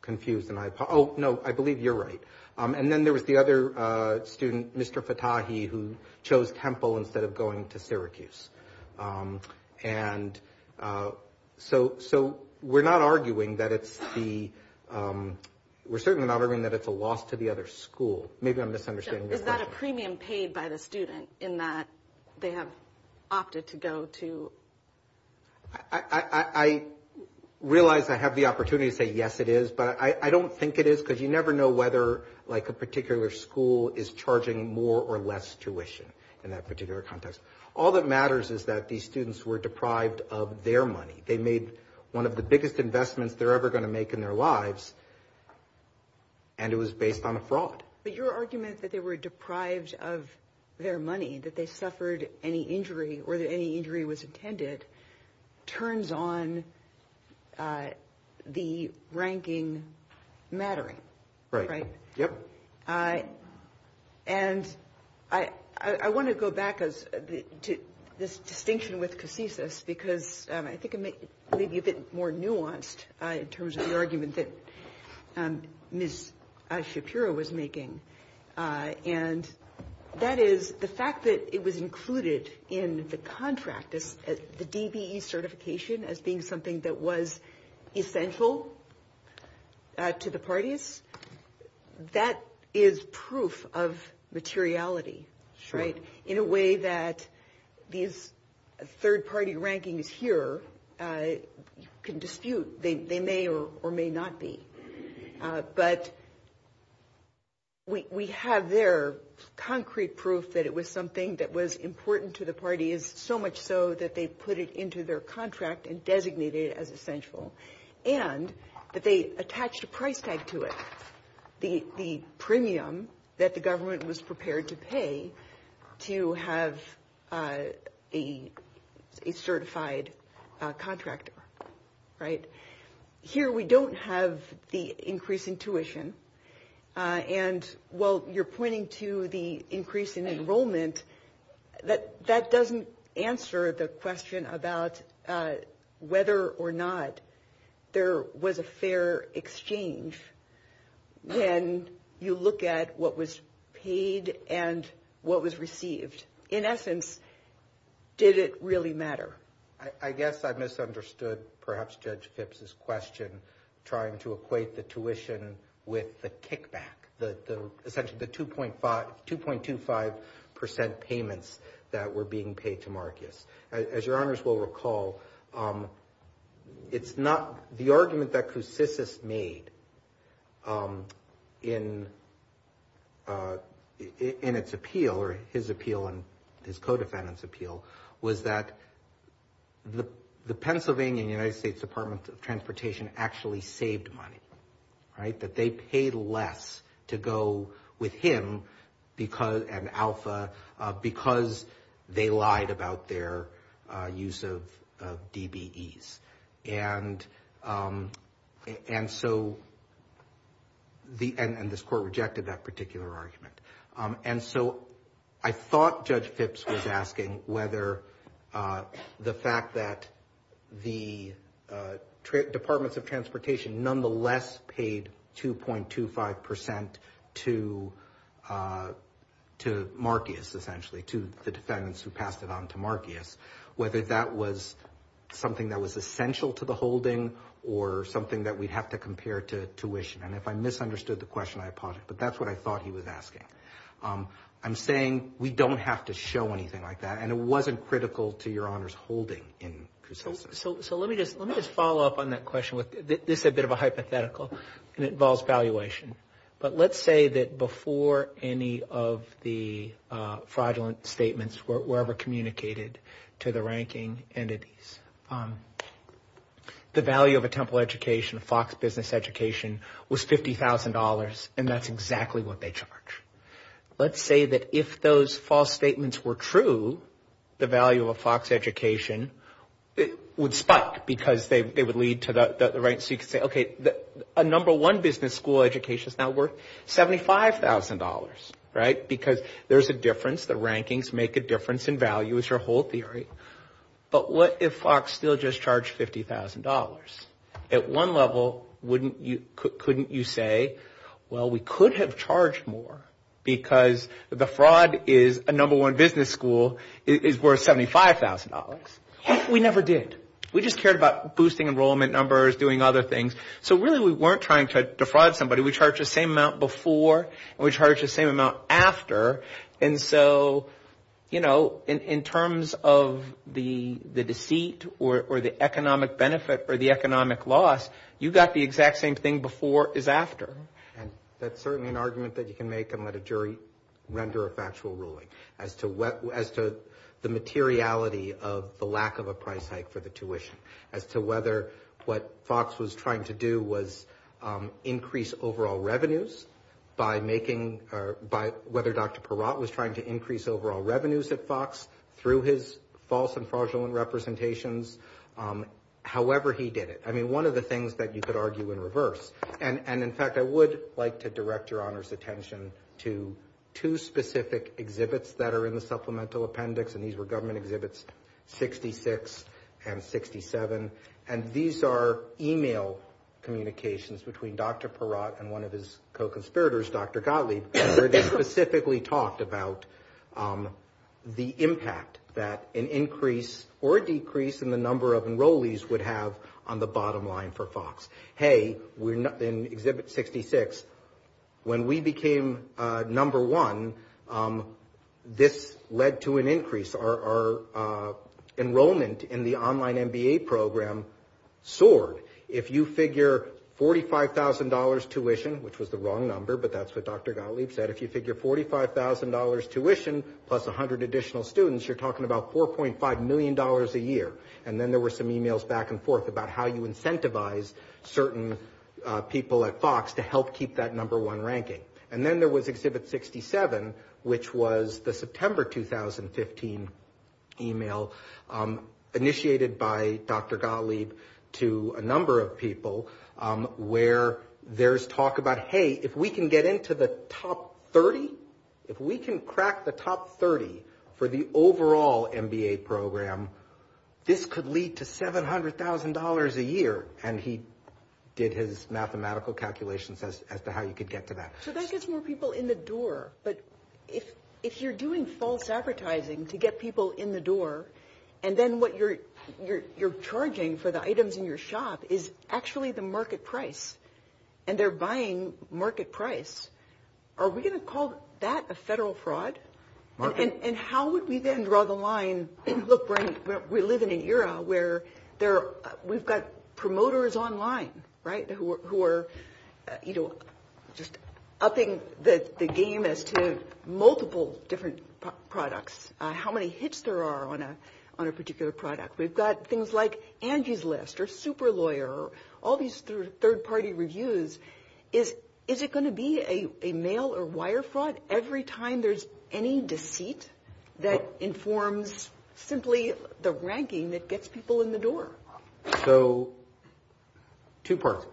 confused in my... Oh, no. I believe you're right. And then there was the other student, Mr. Patahi, who chose Temple instead of going to Syracuse. And so, we're not arguing that it's the... We're certainly not arguing that it's a loss to the other school. Maybe I'm misunderstanding your question. Is that a premium paid by the student in that they have opted to go to... I realize I have the opportunity to say, yes, it is, but I don't think it is because you never know whether a particular school is charging more or less tuition in that particular context. All that matters is that these students were deprived of their money. They made one of the biggest investments they're ever going to make in their lives, and it was based on a fraud. But your argument that they were deprived of their money, that they suffered any injury or that any injury was intended, turns on the ranking mattering. Right, yep. And I want to go back to this distinction with Casesis because I think it may be a bit more nuanced in terms of the argument that Ms. Shakira was making. And that is the fact that it was included in the contract, the DBE certification as being something that was essential to the parties. That is proof of materiality, right? In a way that these third-party rankings here can dispute. They may or may not be. But we have there concrete proof that it was something that was important to the parties, so much so that they put it into their contract and designated it as essential. And that they attached a price tag to it, the premium that the government was prepared to pay to have a certified contractor, right? Here we don't have the increase in tuition. And while you're pointing to the increase in enrollment, that doesn't answer the question about whether or not there was a fair exchange when you look at what was paid and what was received. In essence, did it really matter? I guess I misunderstood perhaps Judge Phipps' question trying to equate the tuition with the kickback, essentially the 2.25% payments that were being paid to Marcus. As your honors will recall, the argument that Coussis made in its appeal, or his appeal and his co-defendant's appeal, was that the Pennsylvania and United States Department of Transportation actually saved money, right? That they paid less to go with him and Alpha because they lied about their use of DBEs. And so this court rejected that particular argument. And so I thought Judge Phipps was asking whether the fact that the Departments of Transportation nonetheless paid 2.25% to Marcus essentially, to the defendants who passed it on to Marcus, whether that was something that was essential to the holding or something that we'd have to compare to tuition. And if I misunderstood the question, I apologize. But that's what I thought he was asking. I'm saying we don't have to show anything like that. And it wasn't critical to your honors holding in Coussis. So let me just follow up on that question. This is a bit of a hypothetical and it involves valuation. But let's say that before any of the fraudulent statements were ever communicated to the ranking entities, the value of a Temple education, a Fox business education, was $50,000 and that's exactly what they charge. Let's say that if those false statements were true, the value of a Fox education would spot because they would lead to the right. So you could say, okay, a number one business school education is now worth $75,000, right? Because there's a difference. The rankings make a difference in value is your whole theory. But what if Fox still just charged $50,000? At one level, couldn't you say, well, we could have charged more because the fraud is a number one business school is worth $75,000. We never did. We just cared about boosting enrollment numbers, doing other things. So really, we weren't trying to defraud somebody. We charged the same amount before and we charged the same amount after. And so, you know, in terms of the deceit or the economic benefit or the economic loss, you got the exact same thing before is after. And that's certainly an argument that you can make and let a jury render a factual ruling as to the materiality of the lack of a price hike for the tuition. As to whether what Fox was trying to do was increase overall revenues by making, by whether Dr. Perot was trying to increase overall revenues at Fox through his false and fraudulent representations. However, he did it. I mean, one of the things that you could argue in reverse. And in fact, I would like to direct Your Honor's attention to two specific exhibits that are in the supplemental appendix. And these were government exhibits 66 and 67. And these are email communications between Dr. Perot and one of his co-conspirators, Dr. Gottlieb, where they specifically talked about the impact that an increase or decrease in the number of enrollees would have on the bottom line for Fox. Hey, in exhibit 66, when we became number one, this led to an increase. Our enrollment in the online MBA program soared. If you figure $45,000 tuition, which was the wrong number, but that's what Dr. Gottlieb said. If you figure $45,000 tuition plus 100 additional students, you're talking about $4.5 million a year. And then there were some emails back and forth about how you incentivize certain people at Fox to help keep that number one ranking. And then there was exhibit 67, which was the September 2015 email initiated by Dr. Gottlieb to a number of people where there's talk about, hey, if we can get into the top 30, if we can crack the top 30 for the overall MBA program, this could lead to $700,000 a year. And he did his mathematical calculations as to how he could get to that. So that gets more people in the door. But if you're doing false advertising to get people in the door, and then what you're charging for the items in your shop is actually the market price, and they're buying market price, are we going to call that a federal fraud? And how would we then draw the line, look, we live in an era where we've got promoters online, right, who are just upping the game as to multiple different products, how many hits there are on a particular product. We've got things like Angie's List or Super Lawyer, all these third-party reviews. Is it going to be a mail or wire fraud every time there's any deceit that informs simply the ranking that gets people in the door? So two parts.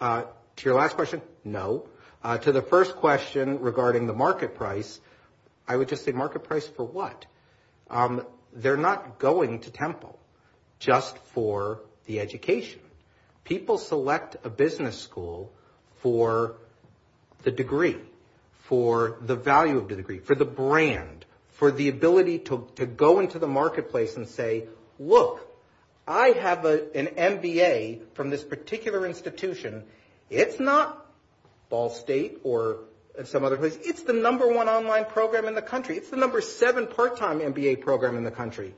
To your last question, no. To the first question regarding the market price, I would just say market price for what? They're not going to Temple just for the education. People select a business school for the degree, for the value of the degree, for the brand, for the ability to go into the marketplace and say, look, I have an MBA from this particular institution. It's not Ball State or some other place. It's the number one online program in the country. It's the number seven part-time MBA program in the country.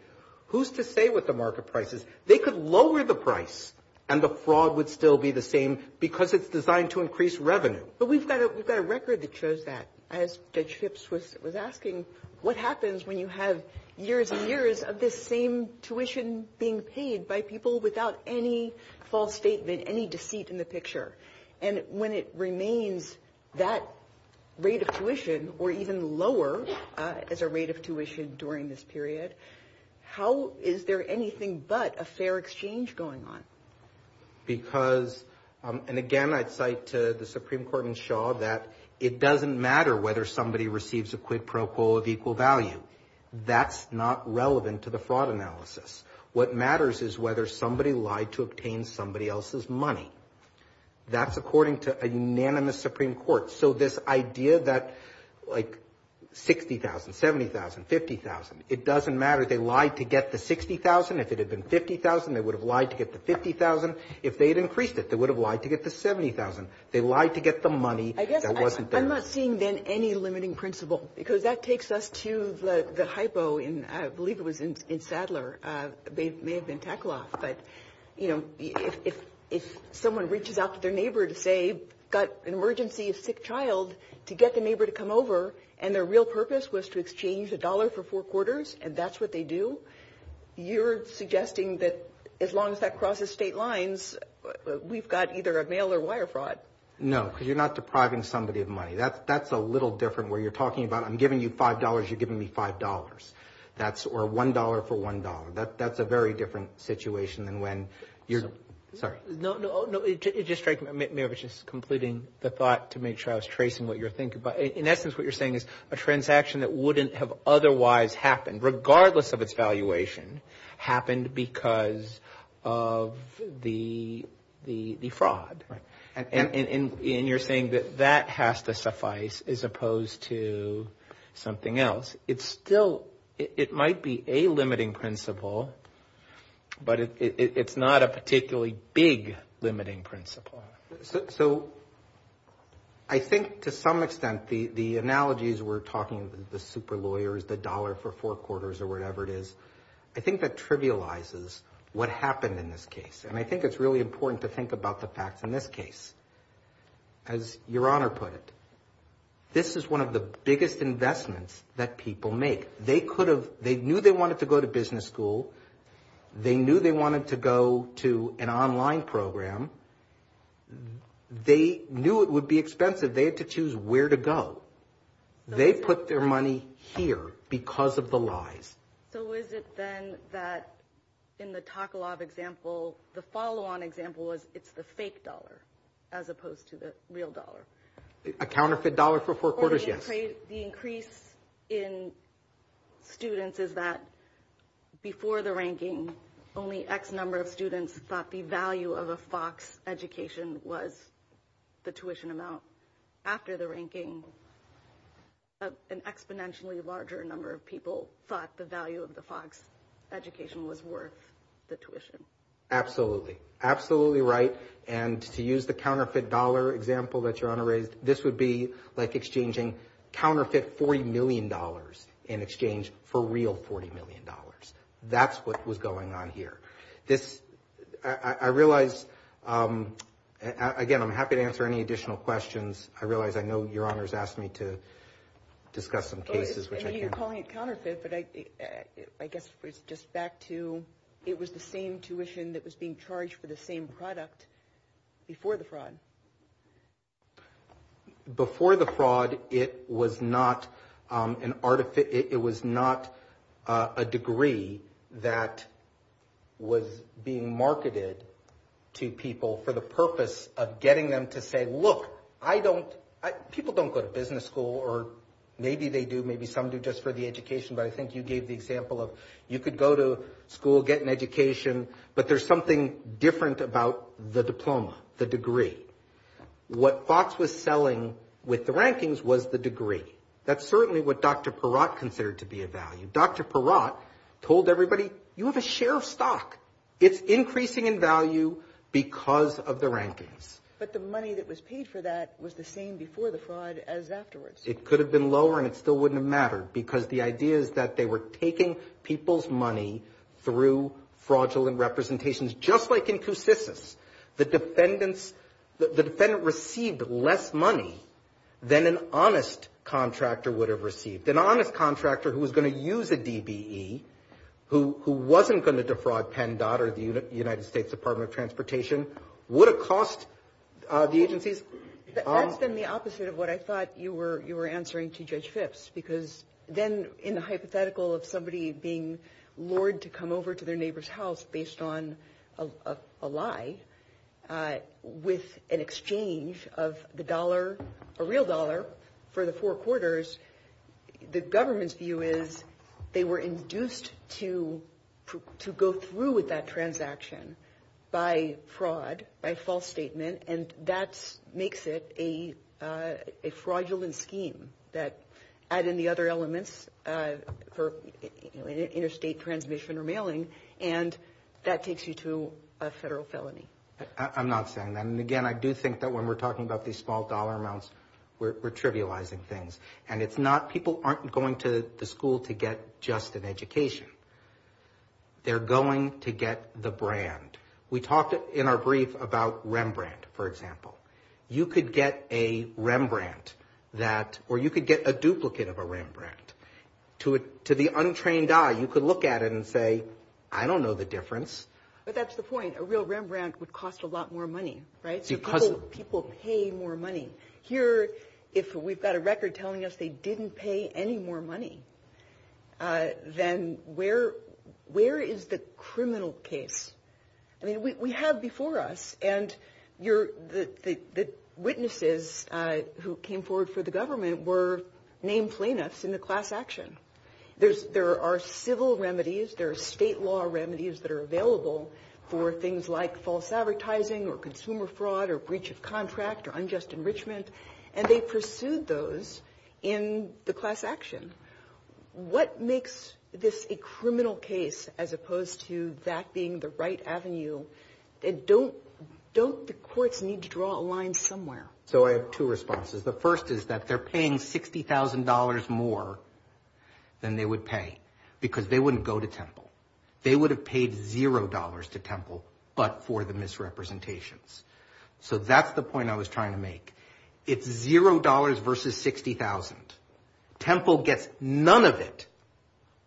Who's to say what the market price is? They could lower the price and the fraud would still be the same because it's designed to increase revenue. But we've got a record that shows that. As Judge Phipps was asking, what happens when you have years and years of this same tuition being paid by people without any false statement, any deceit in the picture? And when it remains that rate of tuition, or even lower as a rate of tuition during this period, how is there anything but a fair exchange going on? Because, and again, I'd cite the Supreme Court in Shaw that it doesn't matter whether somebody receives a quid pro quo of equal value. That's not relevant to the fraud analysis. What matters is whether somebody lied to obtain somebody else's money. That's according to a unanimous Supreme Court. So this idea that like 60,000, 70,000, 50,000, it doesn't matter if they lied to get the 60,000. If it had been 50,000, they would have lied to get the 50,000. If they had increased it, they would have lied to get the 70,000. They lied to get the money that wasn't there. I'm not seeing then any limiting principle, because that takes us to the hypo in, I believe it was in Sadler. They may have been tackle-off, but if someone reaches out to their neighbor to say, got an emergency, a sick child, to get the neighbor to come over, and their real purpose was to exchange a dollar for four quarters, and that's what they do, you're suggesting that as long as that crosses state lines, we've got either a mail or wire fraud. No, because you're not depriving somebody of money. That's a little different where you're talking about, I'm giving you $5, you're giving me $5. That's, or $1 for $1. That's a very different situation than when you're, sorry. No, no, no, it just strikes me, I was just completing the thought to make sure I was tracing what you're thinking about. In essence, what you're saying is a transaction that wouldn't have otherwise happened, regardless of its valuation, happened because of the fraud. And you're saying that that has to suffice as opposed to something else. It's still, it might be a limiting principle, but it's not a particularly big limiting principle. So I think to some extent the analogies we're talking, the super lawyers, the dollar for four quarters or whatever it is, I think that trivializes what happened in this case. And I think it's really important to think about the facts in this case. As your honor put it, this is one of the biggest investments that people make. They could have, they knew they wanted to go to business school. They knew they wanted to go to an online program. They knew it would be expensive. They had to choose where to go. They put their money here because of the lies. So is it then that in the Taklov example, the follow-on example was it's the fake dollar as opposed to the real dollar? A counterfeit dollar for four quarters, yes. The increase in students is that before the ranking, only X number of students thought the value of a Fox education was the tuition amount. After the ranking, an exponentially larger number of people thought the value of the Fox education was worth the tuition. Absolutely. Absolutely right. And to use the counterfeit dollar example that your honor raised, this would be like exchanging counterfeit $40 million in exchange for real $40 million. That's what was going on here. This, I realize, again, I'm happy to answer any additional questions. I realize I know your honor has asked me to discuss some cases. I mean, you're calling it counterfeit, but I guess it's just back to, it was the same tuition that was being charged for the same product before the fraud. Before the fraud, it was not a degree that was being marketed to people for the purpose of getting them to say, look, I don't, people don't go to business school or maybe they do, maybe some do just for the education. But I think you gave the example of, you could go to school, get an education, but there's something different about the diploma, the degree. What Fox was selling with the rankings was the degree. That's certainly what Dr. Perot considered to be a value. Dr. Perot told everybody, you have a share of stock. It's increasing in value because of the rankings. But the money that was paid for that was the same before the fraud as afterwards. It could have been lower and it still wouldn't matter because the idea is that they were taking people's money through fraudulent representations, just like in two systems. The defendants, the defendant received less money than an honest contractor would have received. An honest contractor who was going to use a DDE, who wasn't going to defraud PennDOT or the United States Department of Transportation, would have cost the agencies? That's been the opposite of what I thought you were answering to Judge Phipps because then in the hypothetical of somebody being lured to come over to their neighbor's house based on a lie with an exchange of the dollar, a real dollar for the four quarters, the government's view is they were induced to go through with that transaction by fraud, by false statement, and that makes it a fraudulent scheme that add in the other elements for interstate transmission or mailing and that takes you to a federal felony. I'm not saying that. And again, I do think that when we're talking about these small dollar amounts, we're trivializing things. And it's not people aren't going to the school to get just an education. They're going to get the brand. We talked in our brief about Rembrandt, for example. You could get a Rembrandt that, or you could get a duplicate of a Rembrandt. To the untrained eye, you could look at it and say, I don't know the difference. But that's the point. A real Rembrandt would cost a lot more money, right? Because people pay more money. Here, if we've got a record telling us they didn't pay any more money, then where is the criminal case? I mean, we have before us and the witnesses who came forward for the government were named plaintiffs in the class action. There are civil remedies. There are state law remedies that are available for things like false advertising or consumer fraud or breach of contract or unjust enrichment. And they pursued those in the class action. What makes this a criminal case as opposed to that being the right avenue? Don't the courts need to draw a line somewhere? So I have two responses. The first is that they're paying $60,000 more than they would pay because they wouldn't go to Temple. They would have paid $0 to Temple but for the misrepresentations. So that's the point I was trying to make. It's $0 versus $60,000. Temple gets none of it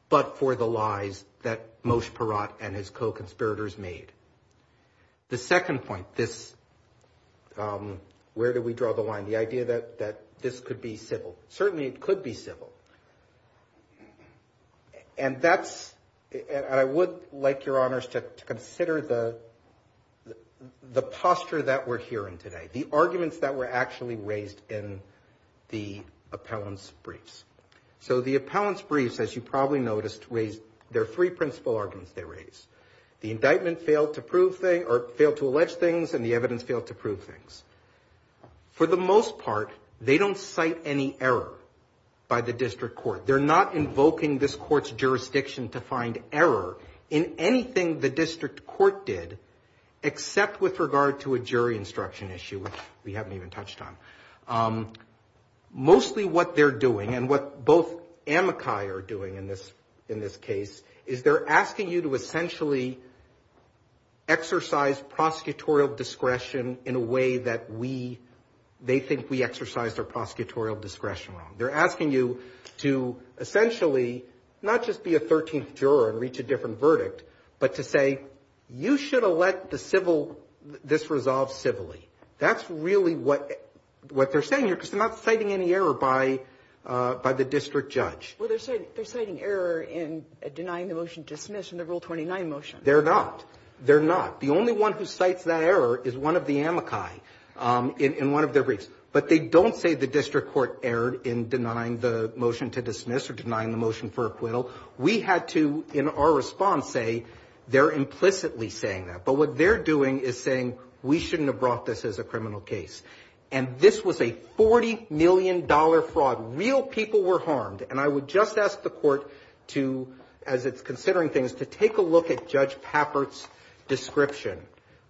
but for the lies that Moshe Perot and his co-conspirators made. The second point, where do we draw the line? The idea that this could be civil. Certainly it could be civil. And I would like your honors to consider the posture that we're hearing today. The arguments that were actually raised in the appellant's briefs. So the appellant's briefs, as you probably noticed, raised their three principal arguments they raised. The indictment failed to prove things or failed to allege things and the evidence failed to prove things. For the most part, they don't cite any error by the district court. They're not invoking this court's jurisdiction to find error in anything the district court did except with regard to a jury instruction issue, which we haven't even touched on. Mostly what they're doing and what both Amakai are doing in this case is they're asking you to essentially exercise prosecutorial discretion in a way that they think we exercised our prosecutorial discretion on. They're asking you to essentially not just be a 13th juror and reach a different verdict but to say, you should elect this resolve civilly. That's really what they're saying here because they're not citing any error by the district judge. Well, they're citing error in denying the motion to dismiss in the Rule 29 motion. They're not. They're not. The only one who cites that error is one of the Amakai in one of their briefs. But they don't say the district court erred in denying the motion to dismiss or denying the motion for acquittal. We had to, in our response, say they're implicitly saying that. But what they're doing is saying we shouldn't have brought this as a criminal case. And this was a $40 million fraud. Real people were harmed. And I would just ask the court to, as it's considering things, to take a look at Judge Pappert's description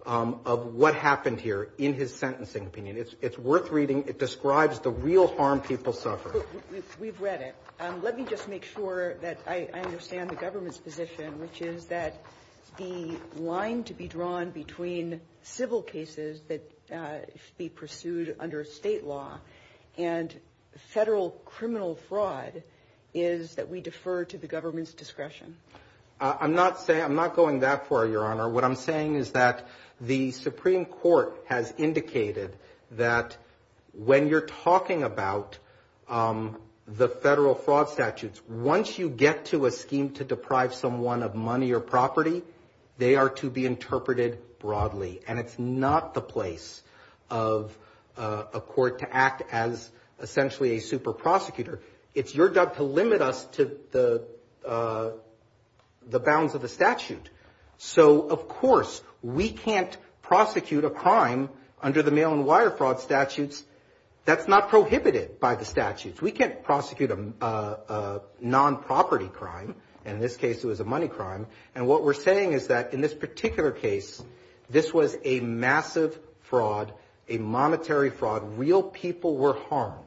of what happened here in his sentencing opinion. It's worth reading. It describes the real harm people suffer. We've read it. Let me just make sure that I understand the government's position, which is that the line to be drawn between civil cases that should be pursued under state law and federal criminal fraud is that we defer to the government's discretion. I'm not going that far, Your Honor. What I'm saying is that the Supreme Court has indicated that when you're talking about the federal fraud statutes, once you get to a scheme to deprive someone of money or property, they are to be interpreted broadly. And it's not the place of a court to act as essentially a super prosecutor. It's your job to limit us to the bounds of the statute. So, of course, we can't prosecute a crime under the mail and wire fraud statutes. That's not prohibited by the statutes. We can't prosecute a non-property crime, and in this case, it was a money crime. And what we're saying is that in this particular case, this was a massive fraud, a monetary fraud. Real people were harmed.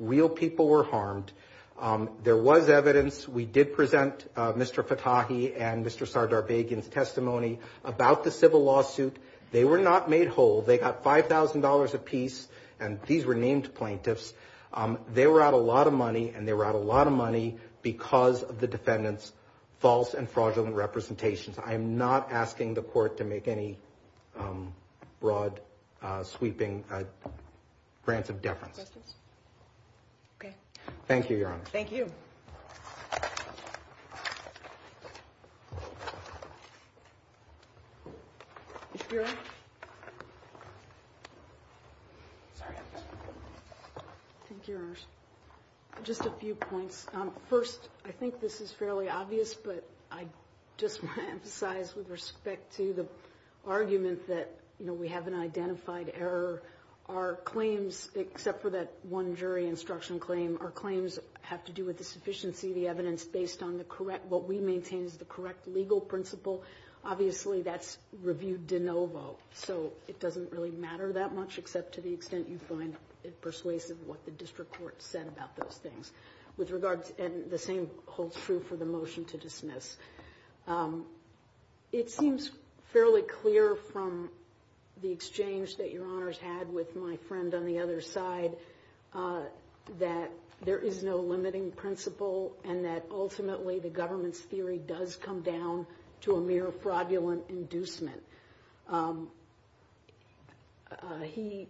Real people were harmed. There was evidence. We did present Mr. Katahi and Mr. Sardarbagan's testimony about the civil lawsuit. They were not made whole. They got $5,000 apiece, and these were named plaintiffs. They were out a lot of money, and they were out a lot of money because of the defendant's false and fraudulent representations. I am not asking the court to make any broad, sweeping grants of defense. Okay. Thank you, Your Honor. Thank you. Ms. Buren? Thank you, Your Honor. Just a few points. First, I think this is fairly obvious, but I just want to emphasize with respect to the argument that we have an identified error. Our claims, except for that one jury instruction claim, our claims have to do with the sufficiency of the evidence based on the correct, what we maintain is the correct legal principle. Obviously, that's reviewed de novo, so it doesn't really matter that much, except to the extent you find it persuasive what the district court said about those things. And the same holds true for the motion to dismiss. It seems fairly clear from the exchange that Your Honor's had with my friend on the other side that there is no limiting principle and that ultimately, the government's theory does come down to a mere fraudulent inducement. He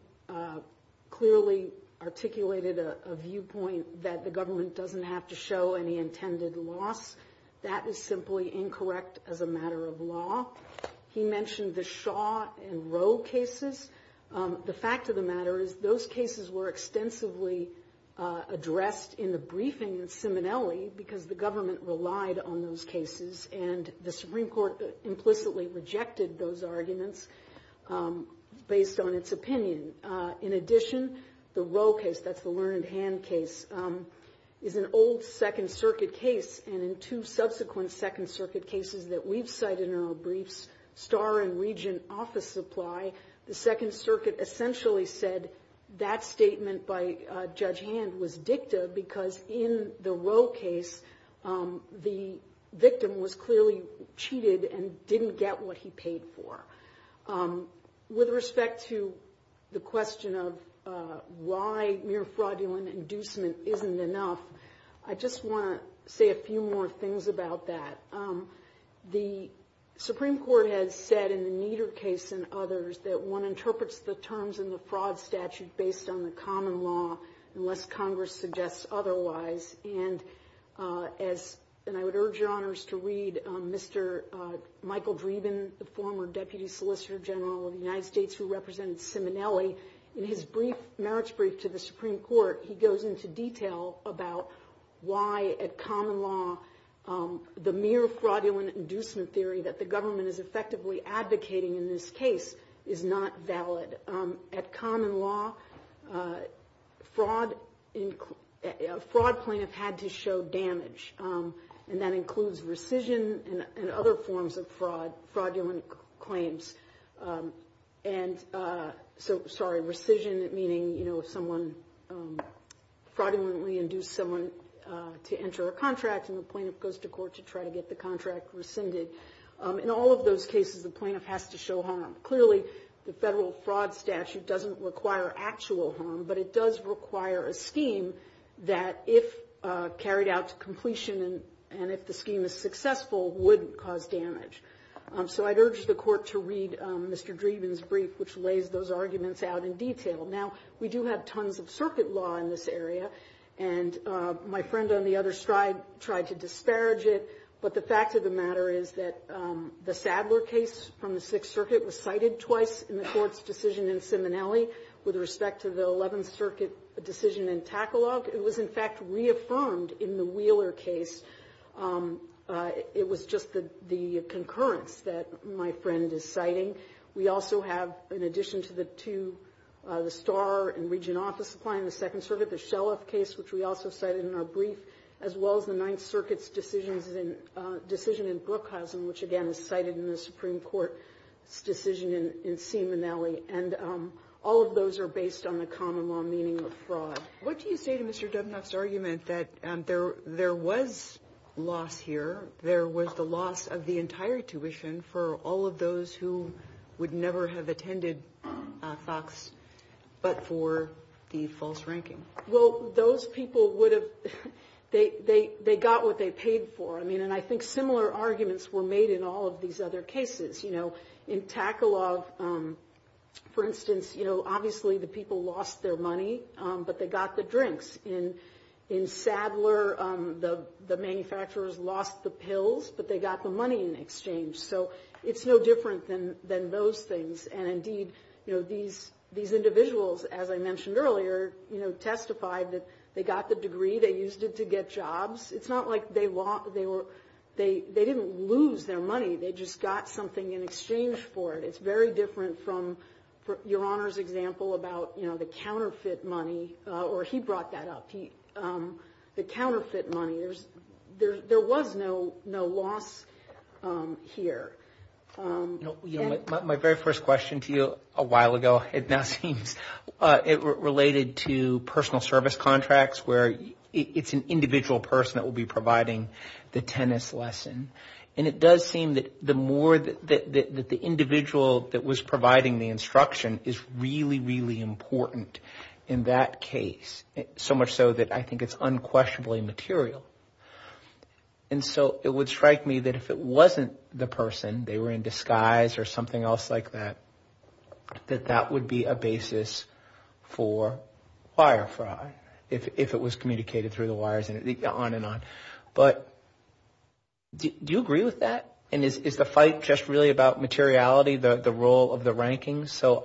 clearly articulated a viewpoint that the government doesn't have to show any intended loss. That is simply incorrect as a matter of law. He mentioned the Shaw and Rowe cases. The fact of the matter is those cases were extensively addressed in the briefing of Simonelli because the government relied on those cases and the Supreme Court implicitly rejected those arguments based on its opinion. In addition, the Rowe case, that's the Learned Hand case, is an old Second Circuit case. And in two subsequent Second Circuit cases that we've cited in our briefs, Starr and Regent Office Supply, the Second Circuit essentially said that statement by Judge Hand was dicta because in the Rowe case, the victim was clearly cheated and didn't get what he paid for. With respect to the question of why mere fraudulent inducement isn't enough, I just want to say a few more things about that. The Supreme Court has said in the Nieder case and others that one interprets the terms in the fraud statute based on the common law unless Congress suggests otherwise. And I would urge your honors to read Mr. Michael Dreeben, the former Deputy Solicitor General of the United States who represents Simonelli. In his brief, merits brief to the Supreme Court, he goes into detail about why at common law the mere fraudulent inducement theory that the government is effectively advocating in this case is not valid. At common law, a fraud plaintiff had to show damage. And that includes rescission and other forms of fraud, fraudulent claims. And so, sorry, rescission meaning someone fraudulently induced someone to enter a contract and the plaintiff goes to court to try to get the contract rescinded. In all of those cases, the plaintiff has to show harm. Clearly, the federal fraud statute doesn't require actual harm, but it does require a scheme that if carried out to completion and if the scheme is successful, would cause damage. So I'd urge the court to read Mr. Dreeben's brief, which lays those arguments out in detail. Now, we do have tons of circuit law in this area. And my friend on the other side tried to disparage it. But the fact of the matter is that the Sadler case from the Sixth Circuit was cited twice in the court's decision in Simonelli with respect to the 11th Circuit decision in Takalov. It was, in fact, reaffirmed in the Wheeler case. It was just the concurrence that my friend is citing. We also have, in addition to the two, the Starr and Regent Office applying in the Second Circuit, the Shelliff case, which we also cited in our brief, as well as the Ninth Circuit's decision in Brookhousing, which, again, is cited in the Supreme Court decision in Simonelli. And all of those are based on the common law meaning of fraud. What do you say to Mr. Dubnoff's argument that there was loss here, there was the loss of the entire tuition for all of those who would never have attended Fox but for the false ranking? Well, those people would have, they got what they paid for. I mean, and I think similar arguments were made in all of these other cases. You know, in Takalov, for instance, you know, obviously the people lost their money, but they got the drinks. In Sadler, the manufacturers lost the pills, but they got the money in exchange. So it's no different than those things. And indeed, you know, these individuals, as I mentioned earlier, you know, testified that they got the degree, they used it to get jobs. It's not like they lost, they didn't lose their money. They just got something in exchange for it. It's very different from your Honor's example about, you know, the counterfeit money or he brought that up. The counterfeit money, there was no loss here. My very first question to you a while ago had nothing related to personal service contracts, where it's an individual person that will be providing the tennis lesson. And it does seem that the more that the individual that was providing the instruction is really, really important in that case. So much so that I think it's unquestionably material. And so it would strike me that if it wasn't the person, they were in disguise or something else like that, that that would be a basis for wire fraud, if it was communicated through the wires and on and on. But do you agree with that? And is the fight just really about materiality, the role of the rankings? So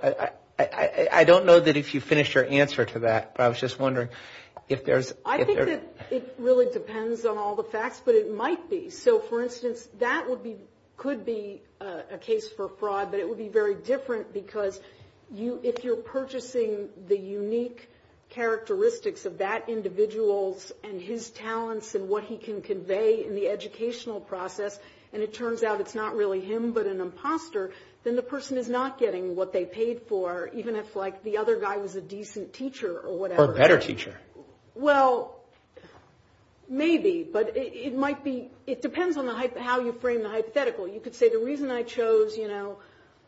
I don't know that if you finish your answer to that, but I was just wondering if there's... I think that it really depends on all the facts, but it might be. So for instance, that could be a case for fraud, but it would be very different because if you're purchasing the unique characteristics of that individual and his talents and what he can convey in the educational process, and it turns out it's not really him, but an imposter, then the person is not getting what they paid for, even if the other guy was a decent teacher or whatever. Or a better teacher. Well, maybe, but it might be... It depends on how you frame the hypothetical. You could say the reason I chose...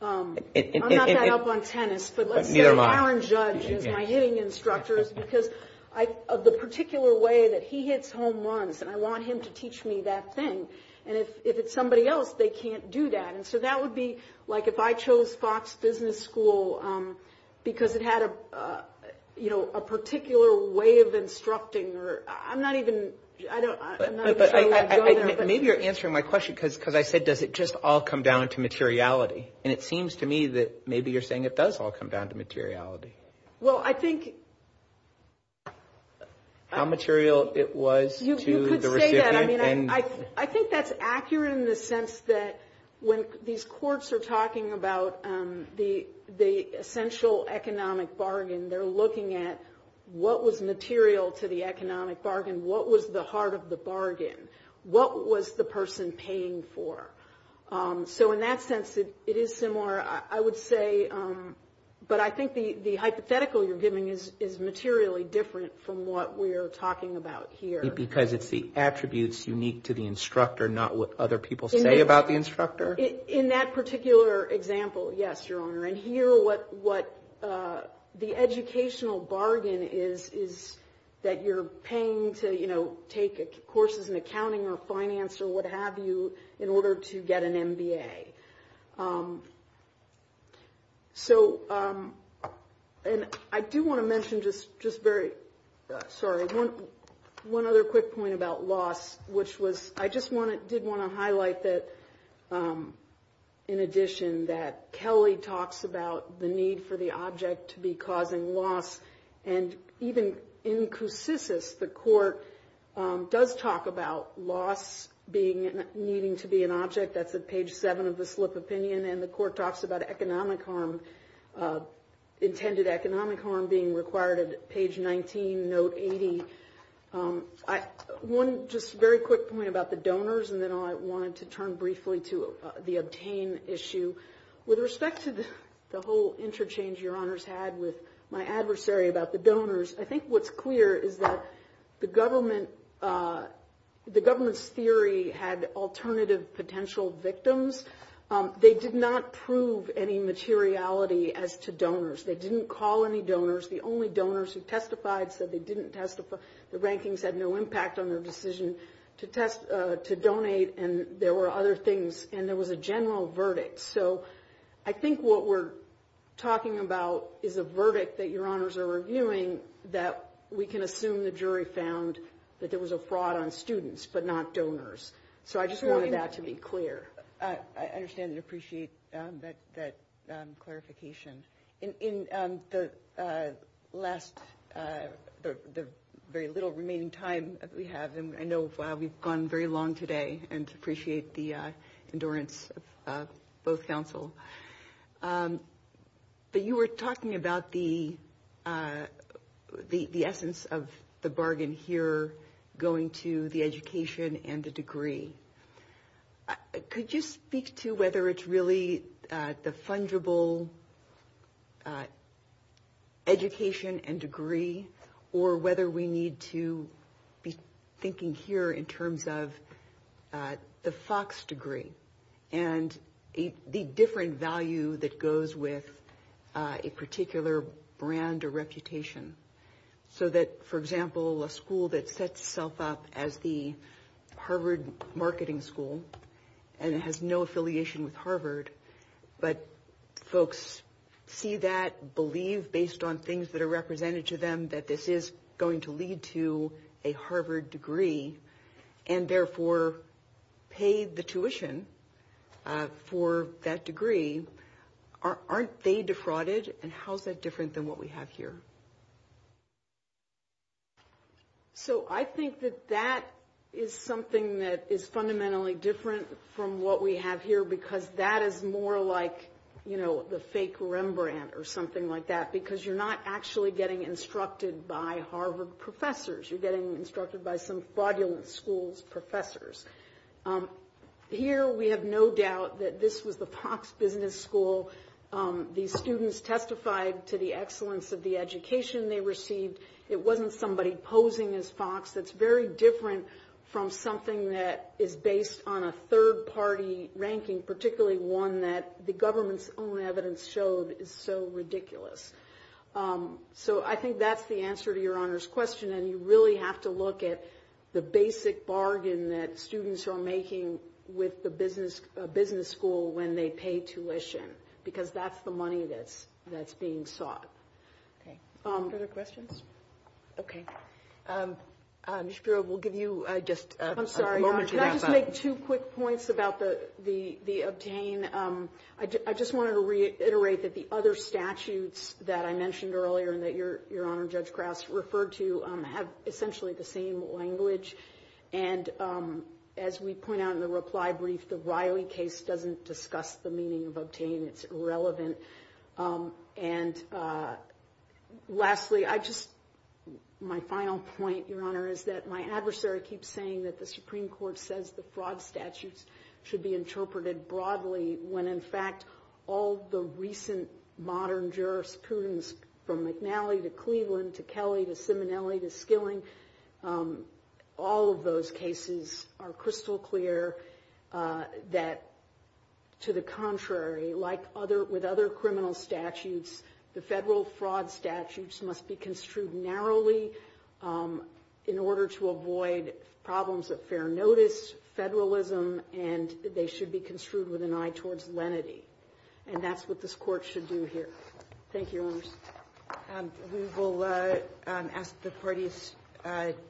I'm not that up on tennis, but let's say an orange judge and I hit an instructor is because of the particular way that he hits home runs and I want him to teach me that thing. And if it's somebody else, they can't do that. And so that would be like if I chose Fox Business School because it had a particular way of instructing or... I'm not even... Maybe you're answering my question because I said, does it just all come down to materiality? And it seems to me that maybe you're saying it does all come down to materiality. Well, I think... How material it was... I think that's accurate in the sense that when these courts are talking about the essential economic bargain, they're looking at what was material to the economic bargain? What was the heart of the bargain? What was the person paying for? So in that sense, it is similar, I would say. But I think the hypothetical you're giving is materially different from what we're talking about here. Because it's the attributes unique to the instructor, not what other people say about the instructor? In that particular example, yes, Your Honor. And here what the educational bargain is that you're paying to, you know, take courses in accounting or finance or what have you in order to get an MBA. And I do want to mention just very... Sorry, one other quick point about loss, which was... I just did want to highlight that in addition that Kelly talks about the need for the object to be causing loss. And even in Koussissis, the court does talk about loss needing to be an object. That's at page seven of the slip opinion. And the court talks about intended economic harm being required at page 19, note 80. One just very quick point about the donors, and then I wanted to turn briefly to the obtain issue. With respect to the whole interchange Your Honor's had with my adversary about the donors, I think what's clear is that the government's theory had alternative potential victims. They did not prove any materiality as to donors. They didn't call any donors. The only donors who testified said they didn't testify. The rankings had no impact on their decision to donate. And there were other things, and there was a general verdict. So I think what we're talking about is a verdict that Your Honors are reviewing that we can assume the jury found that there was a fraud on students, but not donors. So I just wanted that to be clear. I understand and appreciate that clarification. In the last, the very little remaining time that we have, I know we've gone very long today and appreciate the endurance of both counsel. But you were talking about the essence of the bargain here going to the education and the degree. Could you speak to whether it's really the fungible education and degree or whether we need to be thinking here in terms of the Fox degree and the different value that goes with a particular brand or reputation? So that, for example, a school that sets itself up as the Harvard Marketing School and has no affiliation with Harvard, but folks see that, believe based on things that are represented to them that this is going to lead to a Harvard degree and therefore pay the tuition for that degree, aren't they defrauded? And how is that different than what we have here? So I think that that is something that is fundamentally different from what we have here because that is more like, you know, the fake Rembrandt or something like that because you're not actually getting instructed by Harvard professors. You're getting instructed by some fraudulent school's professors. Here, we have no doubt that this was a Fox business school. These students testified to the excellence of the education they received. It wasn't somebody posing as Fox. It's very different from something that is based on a third party ranking, particularly one that the government's own evidence showed is so ridiculous. So I think that's the answer to your honor's question. And you really have to look at the basic bargain that students are making with the business school when they pay tuition because that's the money that's being sought. Any other questions? Okay. Ms. Bureau, we'll give you just a moment. I'm sorry. Can I just make two quick points about the obtain? I just wanted to reiterate that the other statutes that I mentioned earlier and that your honor, Judge Crouch, referred to have essentially the same language. And as we point out in the reply brief, the Riley case doesn't discuss the meaning of obtain. It's irrelevant. And lastly, I just, my final point, your honor, is that my adversary keeps saying that the Supreme Court says the fraud statutes should be interpreted broadly when in fact, all the recent modern jurisprudence from McNally to Cleveland to Kelly to Simonelli to Skilling, all of those cases are crystal clear that to the contrary, like with other criminal statutes, the federal fraud statutes must be construed narrowly in order to avoid problems of fair notice, federalism, and they should be construed with an eye towards lenity. And that's what this court should do here. Thank you. We will ask the parties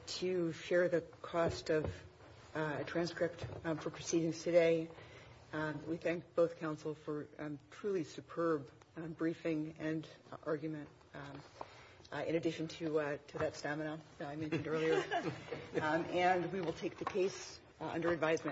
to share the cost of a transcript for proceedings today. We thank both counsel for a truly superb briefing and argument. In addition to that stamina that I mentioned earlier, and we will take the case under advisement.